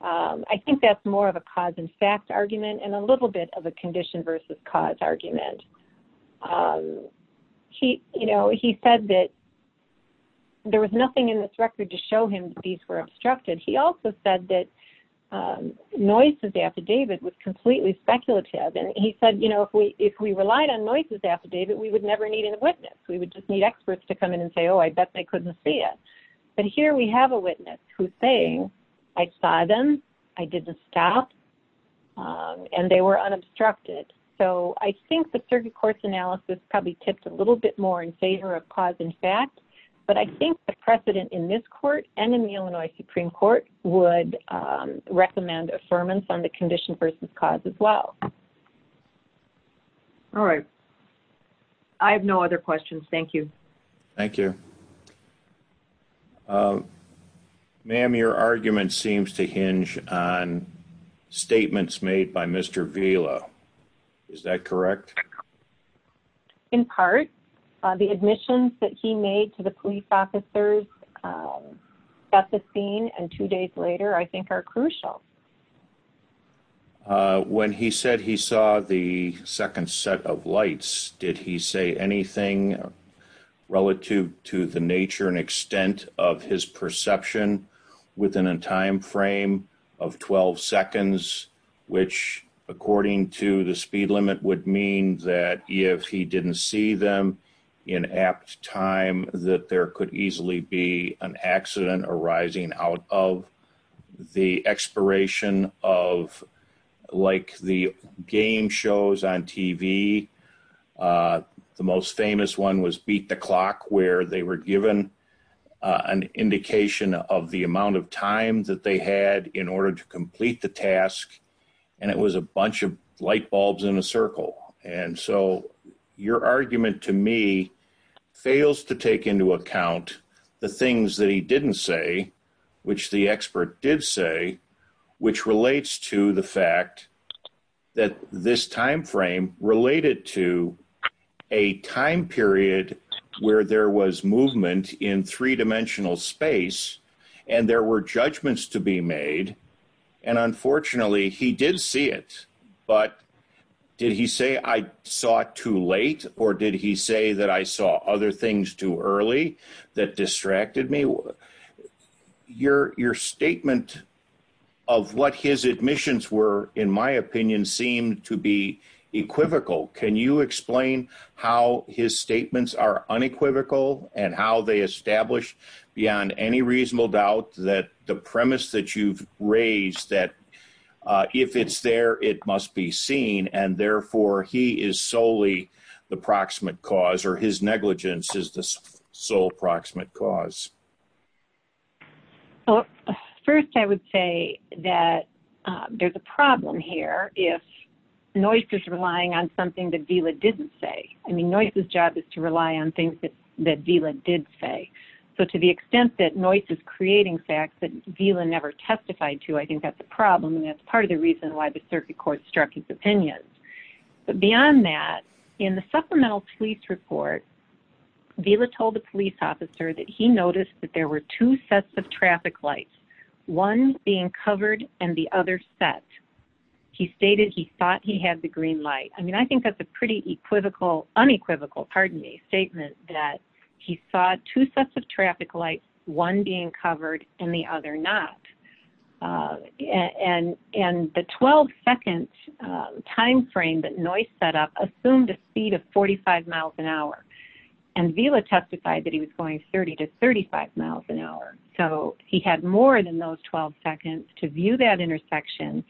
um i think that's more of a cause and fact argument and a little bit of a condition versus cause argument um he you know he said that there was nothing in this record to show him these were obstructed he also said that um noises affidavit was completely speculative and he said know if we if we relied on noises affidavit we would never need a witness we would just need experts to come in and say oh i bet they couldn't see it but here we have a witness who's saying i saw them i didn't stop um and they were unobstructed so i think the circuit court's analysis probably tips a little bit more in favor of cause and fact but i think the precedent in this court and in the illinois supreme court would um recommend affirmance on the condition versus cause as well all right i have no other questions thank you thank you um ma'am your argument seems to hinge on statements made by mr vila is that correct in part the admissions that he made to the police officers um at the scene and two days later i think are crucial uh when he said he saw the second set of lights did he say anything relative to the nature and extent of his perception within a time frame of 12 seconds which according to the speed limit would mean that if he didn't see them in apt time that there could easily be an accident arising out of the expiration of like the game shows on tv uh the most famous one was beat the clock where they were given an indication of the amount of time that they had in order to complete the task and it was a bunch of light bulbs in a circle and so your argument to me fails to take into account the things that he didn't say which the expert did say which relates to the fact that this time frame related to a time period where there was movement in three-dimensional space and there were judgments to be made and unfortunately he did see it but did he say i saw it too late or did he say that i saw other things too early that distracted me your your statement of what his admissions were in my opinion seemed to be equivocal can you explain how his statements are unequivocal and how they establish beyond any reasonable doubt that the premise that you've raised that uh if it's there it must be seen and therefore he is solely the proximate cause or his negligence is the sole proximate cause well first i would say that there's a problem here if noise is relying on something that vila didn't say i mean noise's job is to rely on things that that vila did say so to the extent that noise is creating facts that vila never testified to i think that's a problem and that's part of the reason why the circuit court struck his opinions but beyond that in the supplemental police report vila told the police officer that he noticed that there were two sets of traffic lights one being covered and the other set he stated he thought he had the green light i mean i think that's a pretty equivocal unequivocal pardon me statement that he saw two sets of traffic lights one being covered and the other not uh and and the 12 second um time frame that noise set up assumed a speed of 45 miles an hour and vila testified that he was going 30 to 35 miles an hour so he had more than those 12 seconds to view that intersection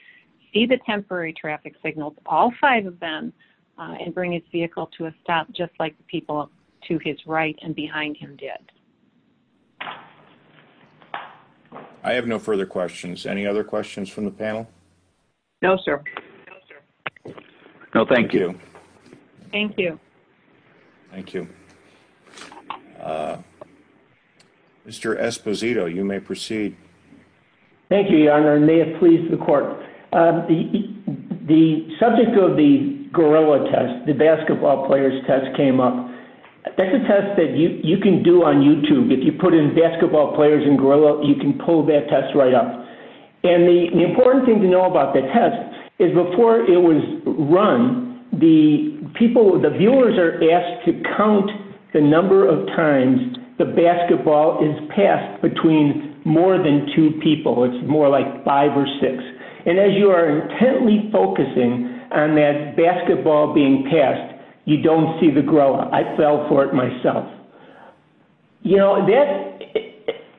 see the temporary traffic signals all five of them and bring his vehicle to a stop just like the people to his right and behind him did i have no further questions any other questions from the panel no sir no thank you thank you thank you uh mr esposito you may proceed thank you your honor and may it please the court the subject of the gorilla test the basketball players test came up that's a test that you you can do on youtube if you put in basketball players in gorilla you can pull that test right up and the important thing to know about the test is before it was run the people the viewers are asked to count the number of times the basketball is passed between more than two people it's more like five or six and as you are intently focusing on that basketball being passed you don't see the grow i fell for it myself you know that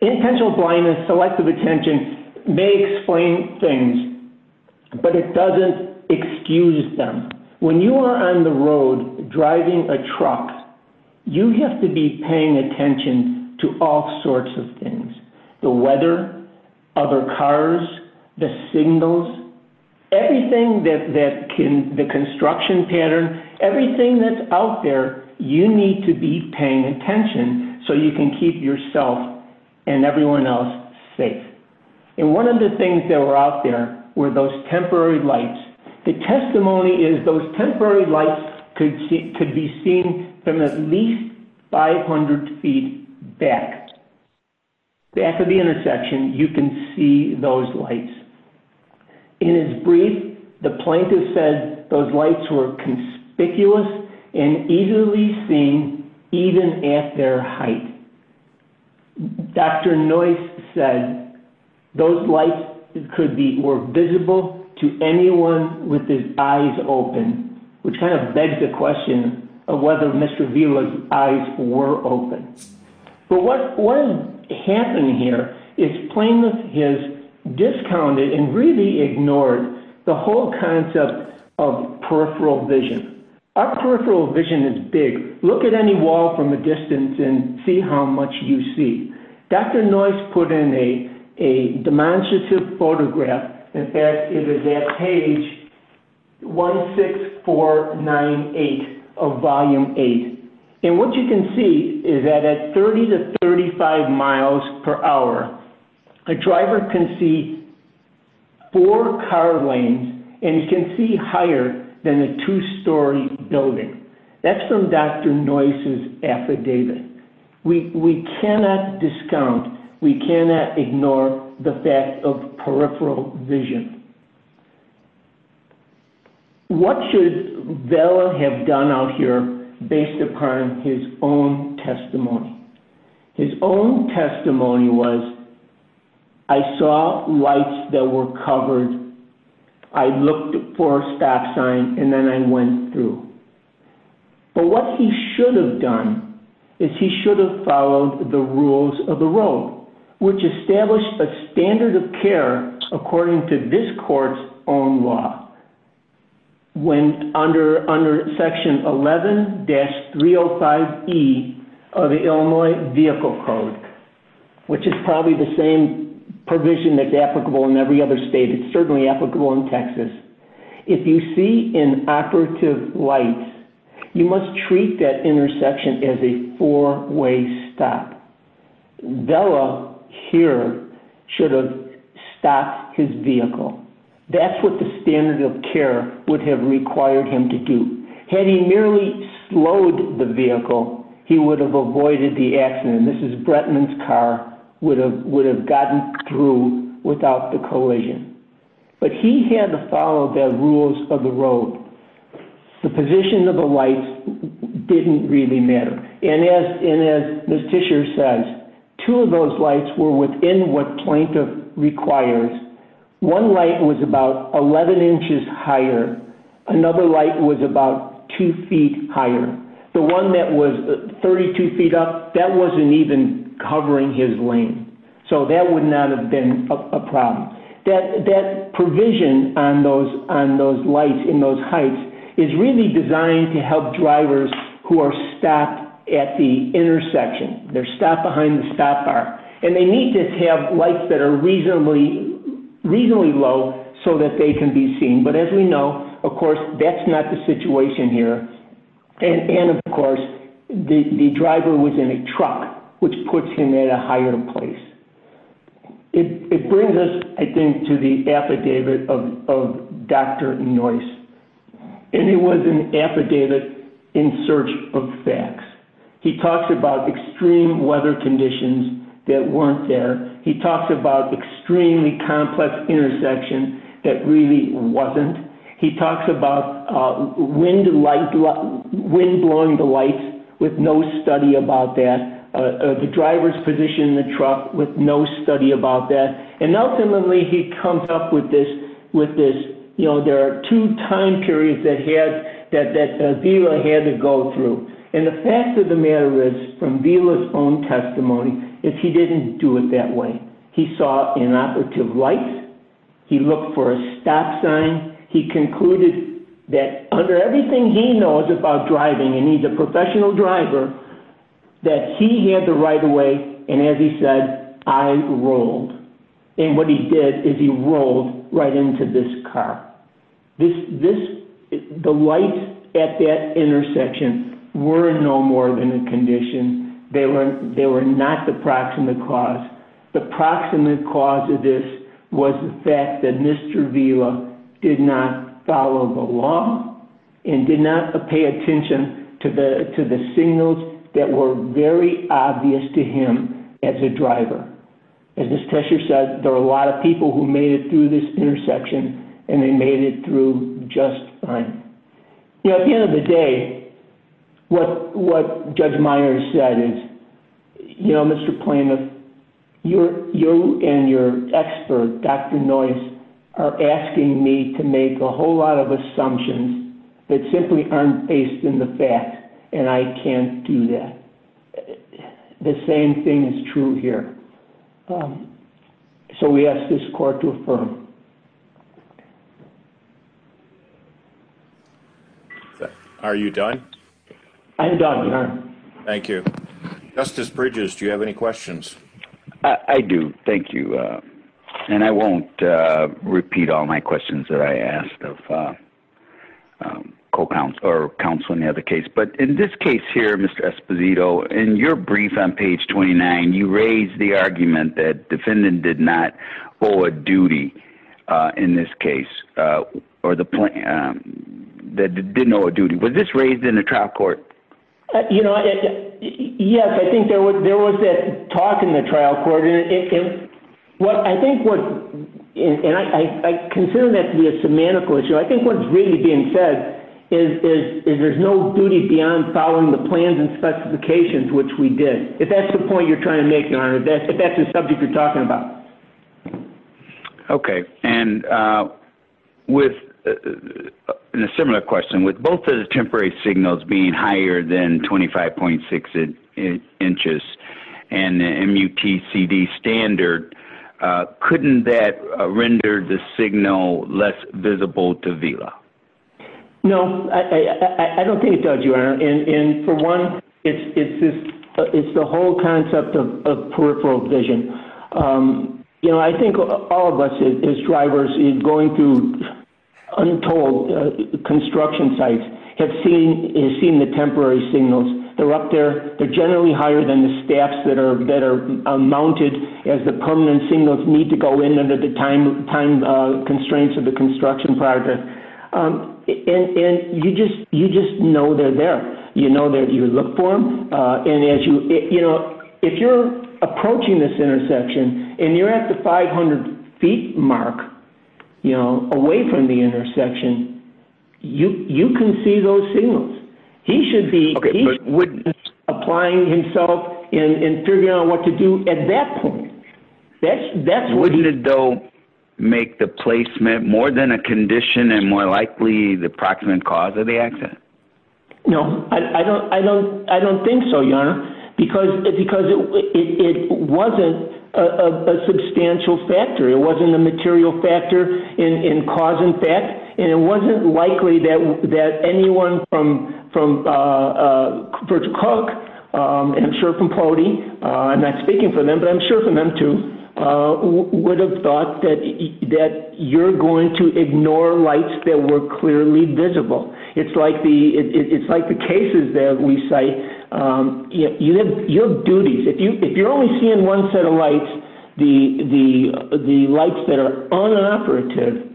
intentional blindness selective attention may explain things but it doesn't excuse them when you are on the road driving a truck you have to be paying attention to all sorts of things the weather other cars the signals everything that can the construction pattern everything that's out there you need to be and one of the things that were out there were those temporary lights the testimony is those temporary lights could be seen from at least 500 feet back after the intersection you can see those lights in his brief the plaintiff said those lights were conspicuous and easily seen even at their height dr noice said those lights could be were visible to anyone with his eyes open which kind of begs the question of whether mr vila's eyes were open but what what happened here is flame has discounted and really ignored the whole concept of peripheral vision our peripheral vision is big look at any wall from a distance and see how much you see dr noice put in a a demonstrative photograph in fact it is at page one six four nine eight of volume eight and what you can see is that at 30 to 35 miles per hour the driver can see four car lanes and you can see higher than a two-story building that's from dr noice's affidavit we we cannot discount we cannot ignore the fact of peripheral vision what should vela have done out here based upon his own testimony his own testimony was i saw lights that were covered i looked for a stop sign and then i went through but what he should have done is he should have followed the rules of the road which established a standard of care according to this court's own law when under under section 11-305 e of the illinois vehicle code which is probably the same provision that's applicable in every other state it's certainly applicable in texas if you see in operative lights you must treat that intersection as a four-way stop vela here should have stopped his vehicle that's what the standard of care would have required him to do had he merely slowed the vehicle he would have avoided the accident this is bretman's car would have would have gotten through without the collision but he had to follow the rules of the two of those lights were within what twain requires one light was about 11 inches higher another light was about two feet higher the one that was 32 feet up that wasn't even covering his lane so that would not have been a problem that that provision on those on those lights in those heights is really designed to help drivers who are stopped at the intersection they're stopped behind the stop bar and they need to have lights that are reasonably reasonably low so that they can be seen but as we know of course that's not the situation here and and of course the the driver was in a truck which puts him at a higher place it brings us i think to the affidavit of of dr noyce and he was an affidavit in search of facts he talks about extreme weather conditions that weren't there he talks about extremely complex intersection that really wasn't he talks about uh wind light wind blowing the light with no study about that uh the driver's position in the truck with no study about that and ultimately he comes up with this with this you know there are two time periods that had that that vila had to go through and the fact of the matter is from vila's own testimony if he didn't do it that way he saw an operative light he looked for a stop sign he concluded that under everything he knows about driving and he's a professional driver that he had to ride away and as he said i rolled and what he did is he rolled right into this car this this the lights at that intersection were no more than a condition they were they were not the proximate cause the proximate cause of this was the fact that mr vila did not follow the law and did not pay attention to the to the signals that were very obvious to him as a driver as miss tesher said there are a lot of people who made it through this intersection and they made it through just fine you know at the end of the day what what judge myer said is you know mr planer you're you and your expert dr noise are asking me to make a whole lot of assumptions that simply aren't based in the fact and i can't do that the same thing is true here um so we ask this court to affirm are you done i'm done thank you justice bridges do you have any questions i i do thank you uh and i won't uh repeat all my questions that i asked of uh co-counsel or counsel in the other but in this case here mr esposito in your brief on page 29 you raised the argument that defendant did not owe a duty uh in this case uh or the point um that didn't owe a duty was this raised in the trial court you know yes i think there was there was that talk in the trial court and it is well i think what and i i consider that to be a semantical issue i think what's really being said is is there's no duties beyond following the plans and specifications which we did if that's the point you're trying to make your honor that's the subject you're talking about okay and uh with a similar question with both of the temporary signals being higher than 25.6 inches and the mutcd standard uh couldn't that render the signal less visible to vila no i i don't think it does your honor and and for one it's it's this it's the whole concept of peripheral vision um you know i think all of us as drivers is going through untold construction sites have seen has seen the temporary signals they're up there they're generally higher than the staffs that are that are mounted as the permanent signals need to go time constraints of the construction project um and and you just you just know they're there you know that you look for them uh and as you you know if you're approaching this intersection and you're at the 500 feet mark you know away from the intersection you you can see those signals he should be applying himself in in figuring out what to do at that point that's that's though make the placement more than a condition and more likely the approximate cause of the accident no i don't i don't i don't think so your honor because because it it wasn't a substantial factor it wasn't a material factor in in cause and fact and it wasn't likely that that anyone from from virtual coke um and sure from podi uh i'm not speaking for them but i'm sure for them too would have thought that that you're going to ignore lights that were clearly visible it's like the it's like the cases that we cite um you have your duties if you if you're only seeing one set of lights the the the lights that are unoperative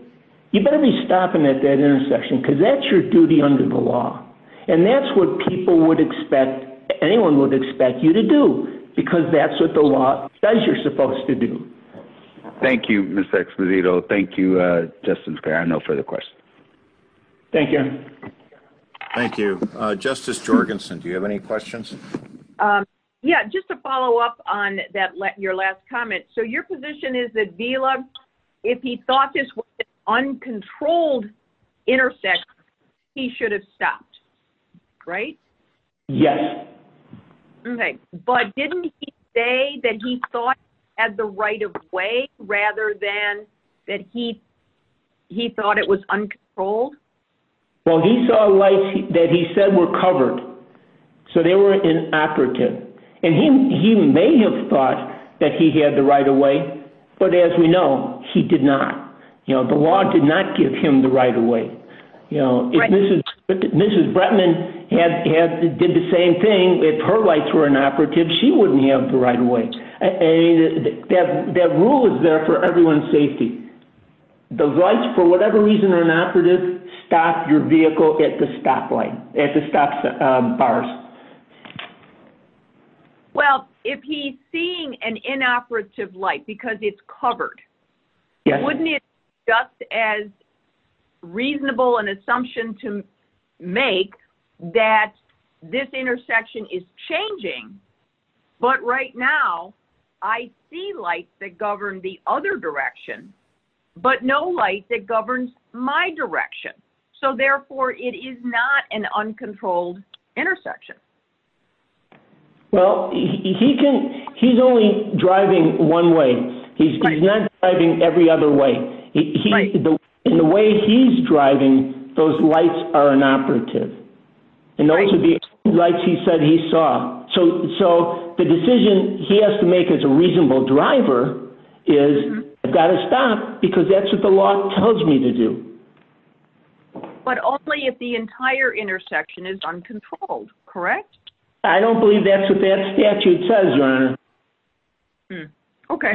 you better be stopping at that intersection because that's your duty under the law and that's what people would expect anyone would expect you to do because that's what the law says you're supposed to do thank you miss expedito thank you uh just in spare no further questions thank you thank you uh justice jorgenson do you have any questions um yeah just to follow up on that let your last comment so your position is that vela if he thought this was an uncontrolled intersection he should have stopped right yes okay but didn't he say that he thought had the right of way rather than that he he thought it was uncontrolled well he saw lights that he said were covered so they were inappropriate and he may have thought that he had the right of way but as we know he did not you know the law did not give him the right of way you know if mrs mrs bretman had had did the same thing if her lights were inoperative she wouldn't have the right away and that that rule is there for everyone's safety the lights for whatever reason are inoperative stop your vehicle at the stoplight at the stop bars well if he's seeing an inoperative light because it's covered wouldn't it just as reasonable an assumption to make that this intersection is changing but right now i see lights that govern the other direction but no light that governs my direction so therefore it is not an uncontrolled intersection well he can he's only driving one way he's not driving every other way in the way he's driving those lights are inoperative and also the lights he said he saw so so the decision he has to make as a reasonable driver is i've got to stop because that's what the law tells me to do but only if the entire intersection is uncontrolled correct i don't believe that's what that statute says okay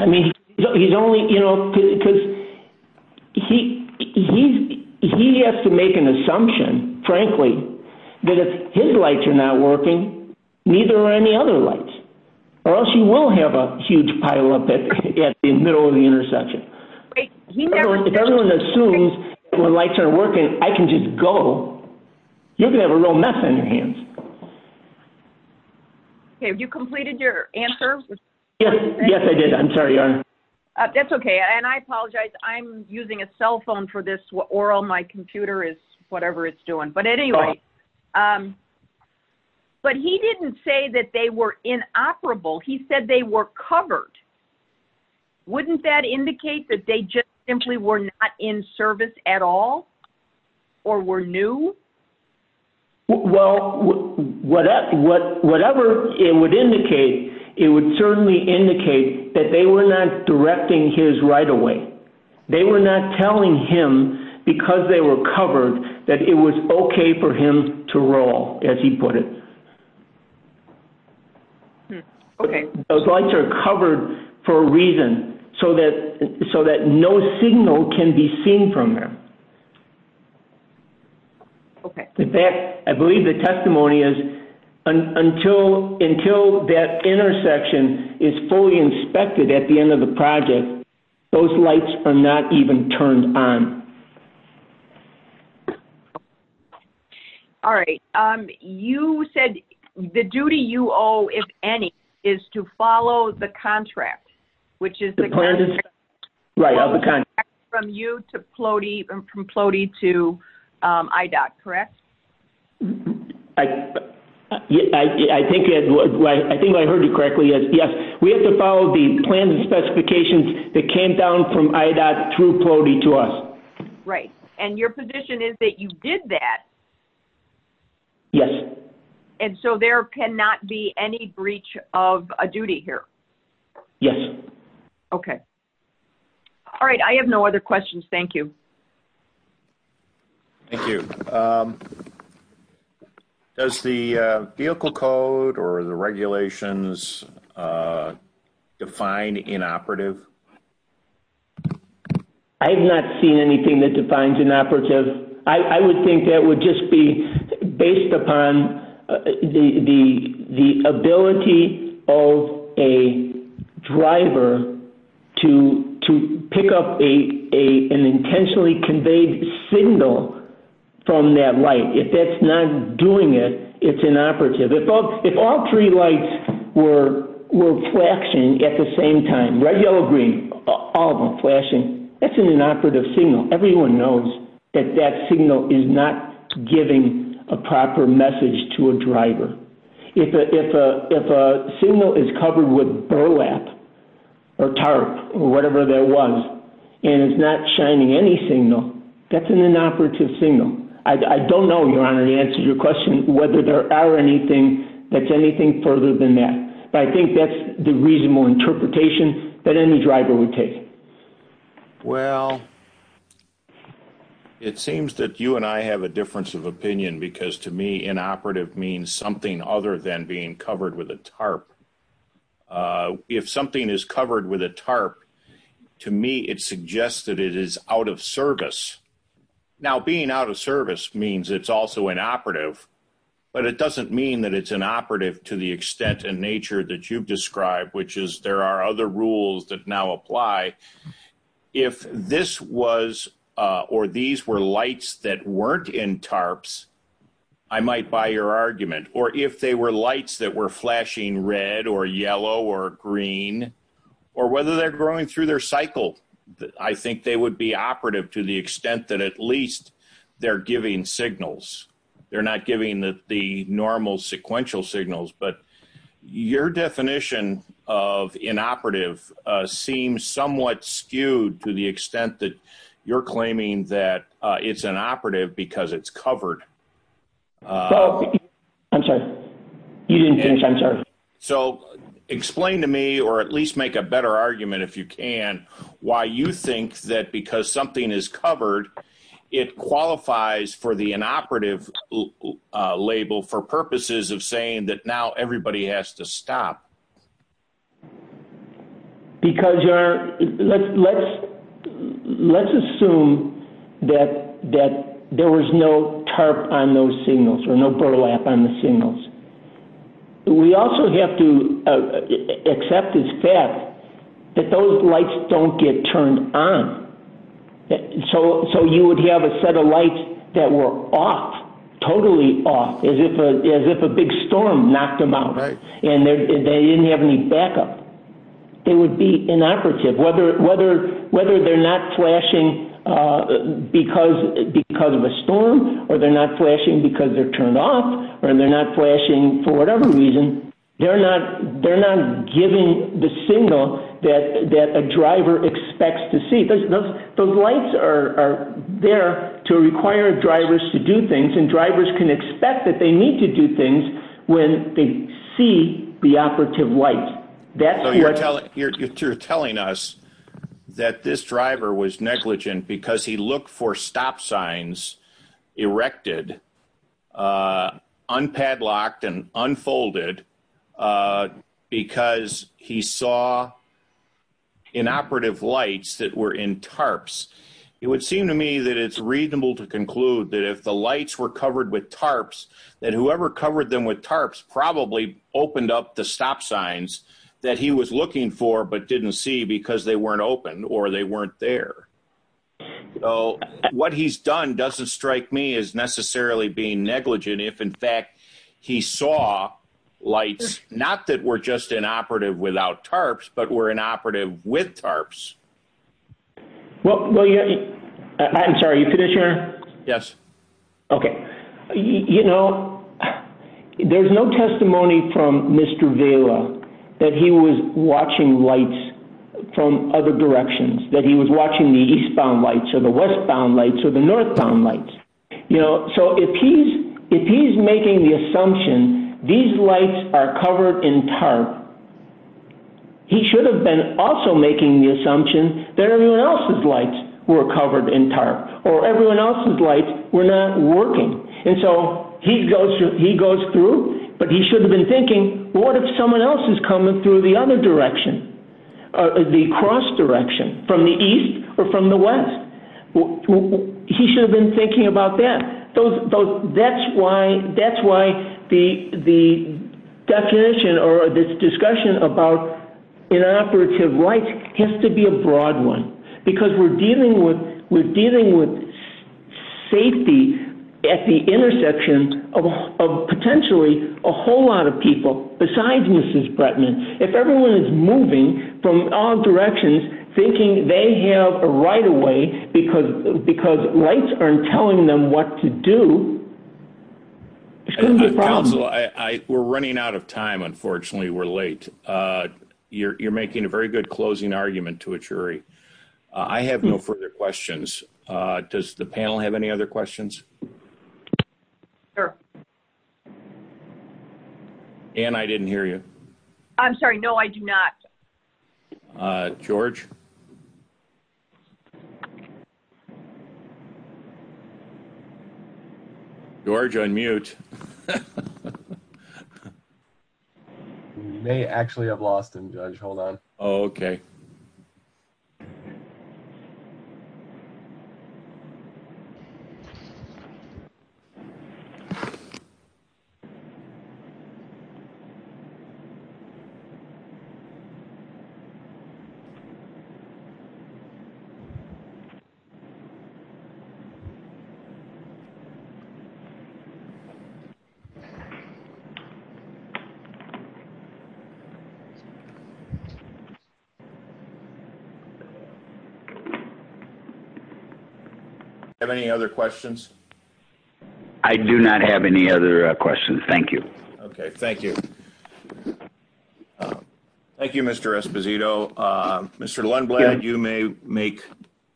he's only you know because he he he has to make an assumption frankly that if his lights are not working neither are any other lights or else you will have a huge pile up at the middle of the assumes when lights are working i can just go you have a little mess in your hands okay have you completed your answer yes yes i did i'm sorry uh that's okay and i apologize i'm using a cell phone for this or on my computer is whatever it's doing but anyway um but he didn't say that they were inoperable he said they were covered wouldn't that indicate that they just simply were not in service at all or were new well whatever what whatever it would indicate it would certainly indicate that they were not directing his right away they were not telling him because they were covered that it was okay for him to roll as he put it okay those lights are covered for a reason so that so that no signal can be seen from them okay that i believe the testimony is until until that intersection is fully inspected at the end of the project those lights are not even turned on okay all right um you said the duty you owe if any is to follow the contract which is the plan right on the contract from you to floaty from floaty to um i dot correct i i i think it was right i think i heard you correctly yes yes we have to follow the plans specifications that came down from i dot through floaty to us right and your position is that you did that yes and so there cannot be any breach of a duty here yes okay all right i have no other questions thank you thank you um does the vehicle code or the regulations uh defined inoperative i have not seen anything that defines inoperative i i would think that would just be based upon the the the ability of a driver to to pick up a a an intentionally conveyed signal from that light if that's not doing it it's inoperative if all if all three lights were were flashing at the same time red yellow green all of them flashing that's an inoperative signal everyone knows that that signal is not giving a proper message to a driver if a if a if a signal is covered with burlap or tarp or whatever there was and it's not shining any signal that's an inoperative signal i don't know your honor and answer your question whether there are anything that's anything further than that but i think that's the reasonable interpretation that any driver would take well it seems that you and i have a difference of opinion because to me inoperative means something other than being covered with a tarp uh if something is covered with a tarp to me it suggests that it is out of service now being out of service means it's also inoperative but it doesn't mean that it's inoperative to the extent and nature that you've described which is there are other rules that now apply if this was uh or these were lights that weren't in tarps i might buy your argument or if they were lights that were flashing red or yellow or green or whether they're growing through their cycle i think they would be operative to the extent that at least they're giving signals they're not giving the normal sequential signals but your definition of inoperative uh seems somewhat skewed to the extent that you're claiming that it's inoperative because it's covered i'm sorry you didn't finish i'm sorry so explain to me or at least make a better argument if you can why you think that because something is covered it qualifies for the inoperative label for purposes of saying that now everybody has to stop because you're let's let's let's assume that that there was no tarp on those signals or no burlap on the signals we also have to accept this fact that those lights don't get turned on so so you would have a set of lights that were off totally off as if as if a big storm knocked them out right and they didn't have any backup they would be inoperative whether whether whether they're not flashing uh because because of a storm or they're not flashing because they're turned off or they're not flashing for whatever reason they're not they're not giving the signal that that a driver expects to see those those lights are there to require drivers to do things and drivers can expect that they need to do things when they see the operative light that's so you're telling us that this driver was negligent because he looked for stop signs erected uh unpadlocked and unfolded because he saw inoperative lights that were in tarps it would seem to me that it's reasonable to conclude that if the lights were covered with tarps that whoever covered them with tarps probably opened up the stop signs that he was looking for but didn't see because they weren't open or they weren't there so what he's done doesn't strike me as necessarily being negligent if in fact he saw lights not that were just inoperative without tarps but were inoperative with tarps well well yeah i'm sorry you're finished here yes okay you know there's no testimony from Mr. Vela that he was watching lights from other directions that he was watching the eastbound lights or the westbound lights or the northbound lights you know so if he's if he's making the that everyone else's lights were covered in tarp or everyone else's lights were not working and so he goes he goes through but he should have been thinking what if someone else is coming through the other direction uh the cross direction from the east or from the west he should have been thinking about that those that's why that's why the the definition or this discussion about inoperative right has to be a broad one because we're dealing with we're dealing with safety at the intersection of potentially a whole lot of people besides Mrs. Bretman if everyone is moving from all directions thinking they have a right away because because rights aren't telling them what to do we're running out of time unfortunately we're late uh you're making a very good closing argument to a jury i have no further questions uh does the panel have any other questions sir and i didn't hear you i'm sorry no i do not uh george george on mute we may actually have lost him judge hold on okay so have any other questions i do not have any other questions thank you okay thank you uh thank you mr esposito uh mr lundblad you may make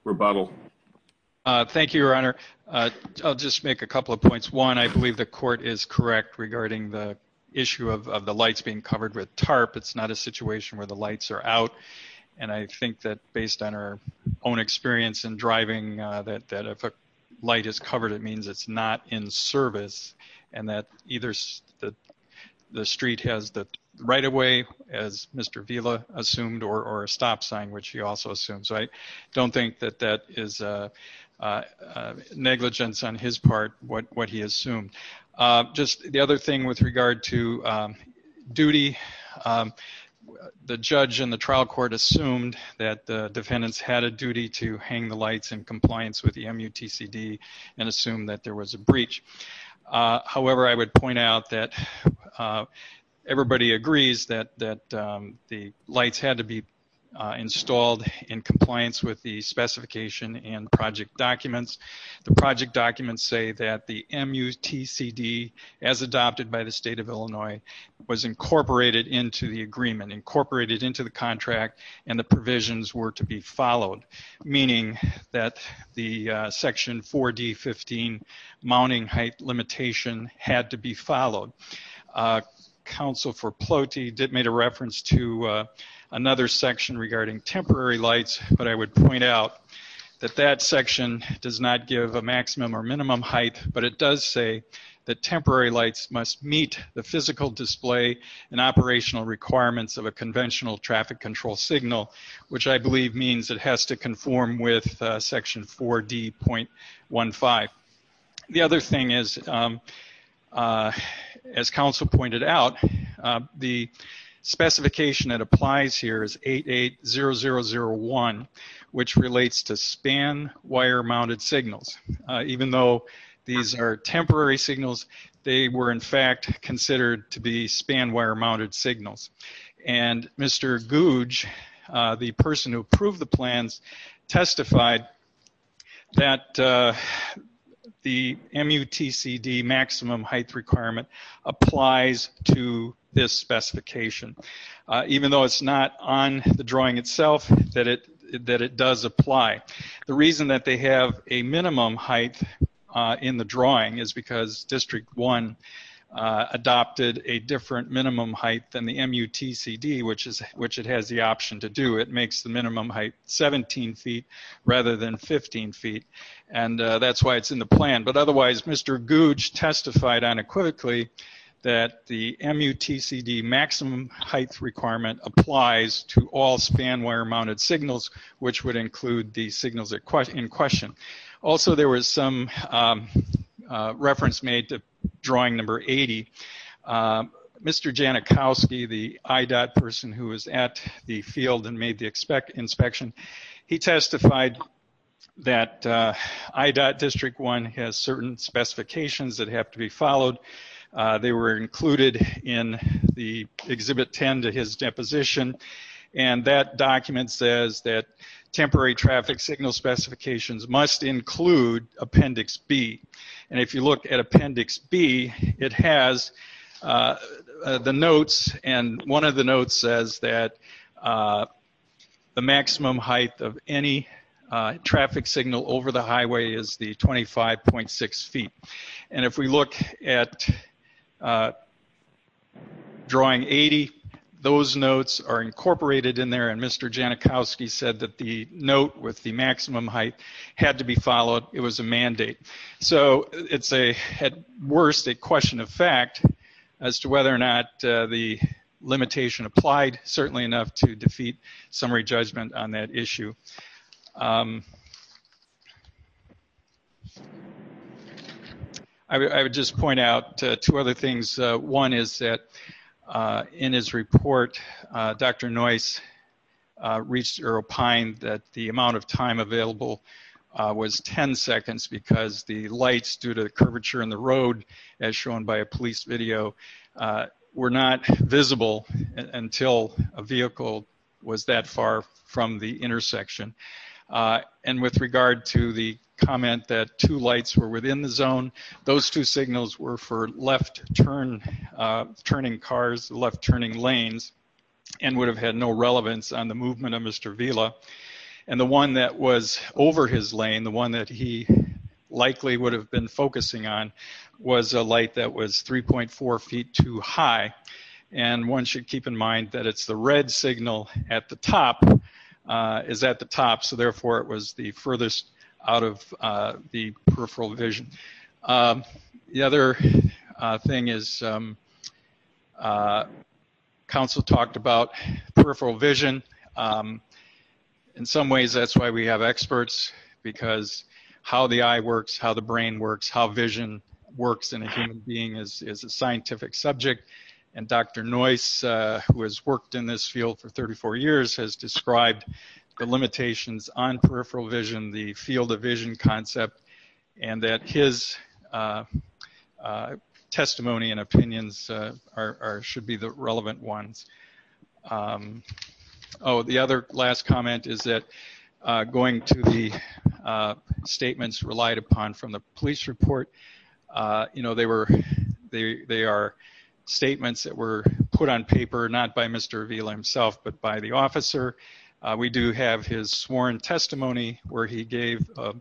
rebuttal uh thank you your honor uh i'll just make a couple of points one i believe the court is correct regarding the issue of the lights being covered with tarp it's not a situation where the lights are out and i think that based on our own experience in driving uh that that if a light is covered it right away as mr vila assumed or or a stop sign which he also assumed so i don't think that that is a negligence on his part what what he assumed just the other thing with regard to duty the judge and the trial court assumed that the defendants had a duty to hang the lights in compliance with the mutcd and assume that there was a breach however i would point out that everybody agrees that that the lights had to be installed in compliance with the specification and project documents the project documents say that the mutcd as adopted by the state of illinois was incorporated into the agreement incorporated into the contract and the provisions were to be followed meaning that the section 4d 15 mounting height limitation had to be followed council for ploty did made a reference to another section regarding temporary lights but i would point out that that section does not give a maximum or minimum height but it does say that temporary lights must meet the physical display and operational requirements of a conventional traffic control signal which i believe means it has to conform with section 4d 0.15 the other thing is as council pointed out the specification that applies here is 88001 which relates to span wire mounted signals even though these are temporary signals they were in fact considered to be span wire mounted signals and mr guj the person who approved the plans testified that the mutcd maximum height requirement applies to this specification even though it's not on the drawing itself that it that it does apply the reason that they have a minimum height in the drawing is because district one adopted a different minimum height than the mutcd which is which it has the option to do it makes the minimum height 17 feet rather than 15 feet and that's why it's in the plan but otherwise mr guj testified unequivocally that the mutcd maximum height requirement applies to all span wire mounted signals which would include the signals in question also there was some reference made to drawing number 80 mr janikowski the IDOT person who was at the field and made the inspect inspection he testified that IDOT district one has certain specifications that have to be followed they were included in the exhibit 10 to his deposition and that document says that temporary traffic signal specifications must include appendix b and if you look at appendix b it has the notes and one of the notes says that the maximum height of any traffic signal over the highway is the 25.6 feet and if we look at drawing 80 those notes are incorporated in there and mr janikowski said that the note with the maximum height had to be followed it was a mandate so it's a at worst a question of fact as to whether or not the limitation applied certainly enough to defeat summary judgment on that issue um i would just point out two other things uh one is that uh in his report uh dr noyce reached aero pine that the amount of time available was 10 seconds because the lights due to the curvature in the road as shown by a police video were not visible until a vehicle was that far from the intersection uh and with regard to the comment that two lights were within the zone those two signals were for left turn uh turning cars left turning lanes and would have had no relevance on the movement of mr villa and the one that was over his lane the one that he likely would have been focusing on was a light that was 3.4 feet too high and one should keep in mind that it's the red signal at the top uh is at the top so therefore it was the furthest out of uh the peripheral vision the other thing is um uh council talked about peripheral vision in some ways that's why we have experts because how the eye works how the brain works how vision works in a human being is a scientific subject and dr noyce who has worked in this field for 34 years has described the limitations on peripheral vision the field of vision concept and that his testimony and opinions are should be the relevant ones oh the other last comment is that going to the statements relied upon from the police report uh you know they were they they are statements that were put on paper not by mr villa himself but by the officer uh we do have his sworn testimony where he gave a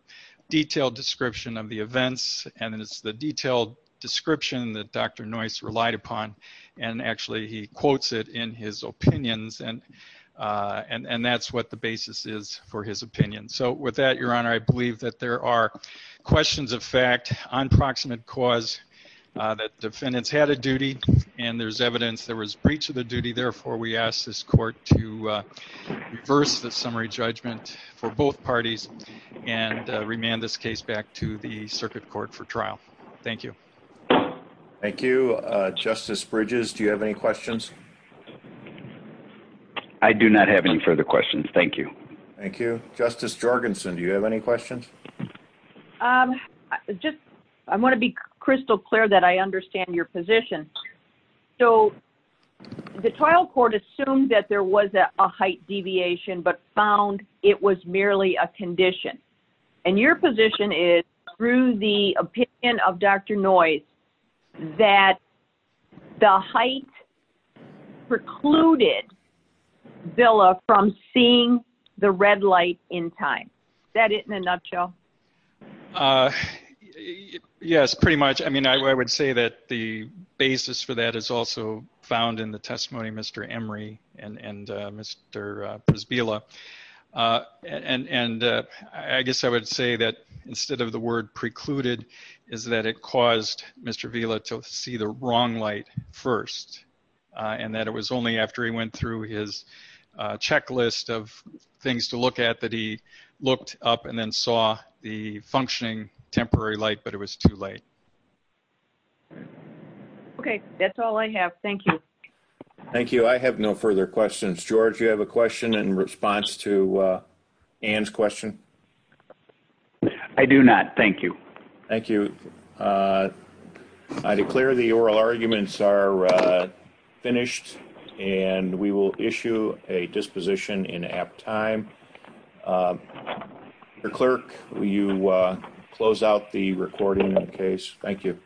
detailed description of the events and it's the detailed description that dr noyce relied upon and actually he quotes it in his opinions and uh and and that's what the basis is for his opinion so with that your honor i believe that there are questions of fact on proximate cause that defendants had a duty and there's evidence there was breach of the duty therefore we ask this court to reverse the summary judgment for both parties and remand this case back to the circuit court for trial thank you thank you uh justice bridges do you have any questions i do not have any further questions thank you thank you justice jorgensen do you have any questions um just i want to be crystal clear that i understand your position so the trial court assumed that there was a height deviation but found it was merely a condition and your position is through the opinion of dr noise that the height precluded villa from seeing the red light in time is that it in a nutshell uh yes pretty much i mean i would say that the basis for that is also found in the testimony mr emory and and uh mr uh and and uh i guess i would say that instead of the word precluded is that it caused mr villa to see the wrong light first and that it was only after he went through his checklist of things to look at that he looked up and then functioning temporary light but it was too late okay that's all i have thank you thank you i have no further questions george you have a question in response to uh ann's question i do not thank you thank you uh i declare the oral arguments are finished and we will issue a disposition in your clerk will you uh close out the recording in the case thank you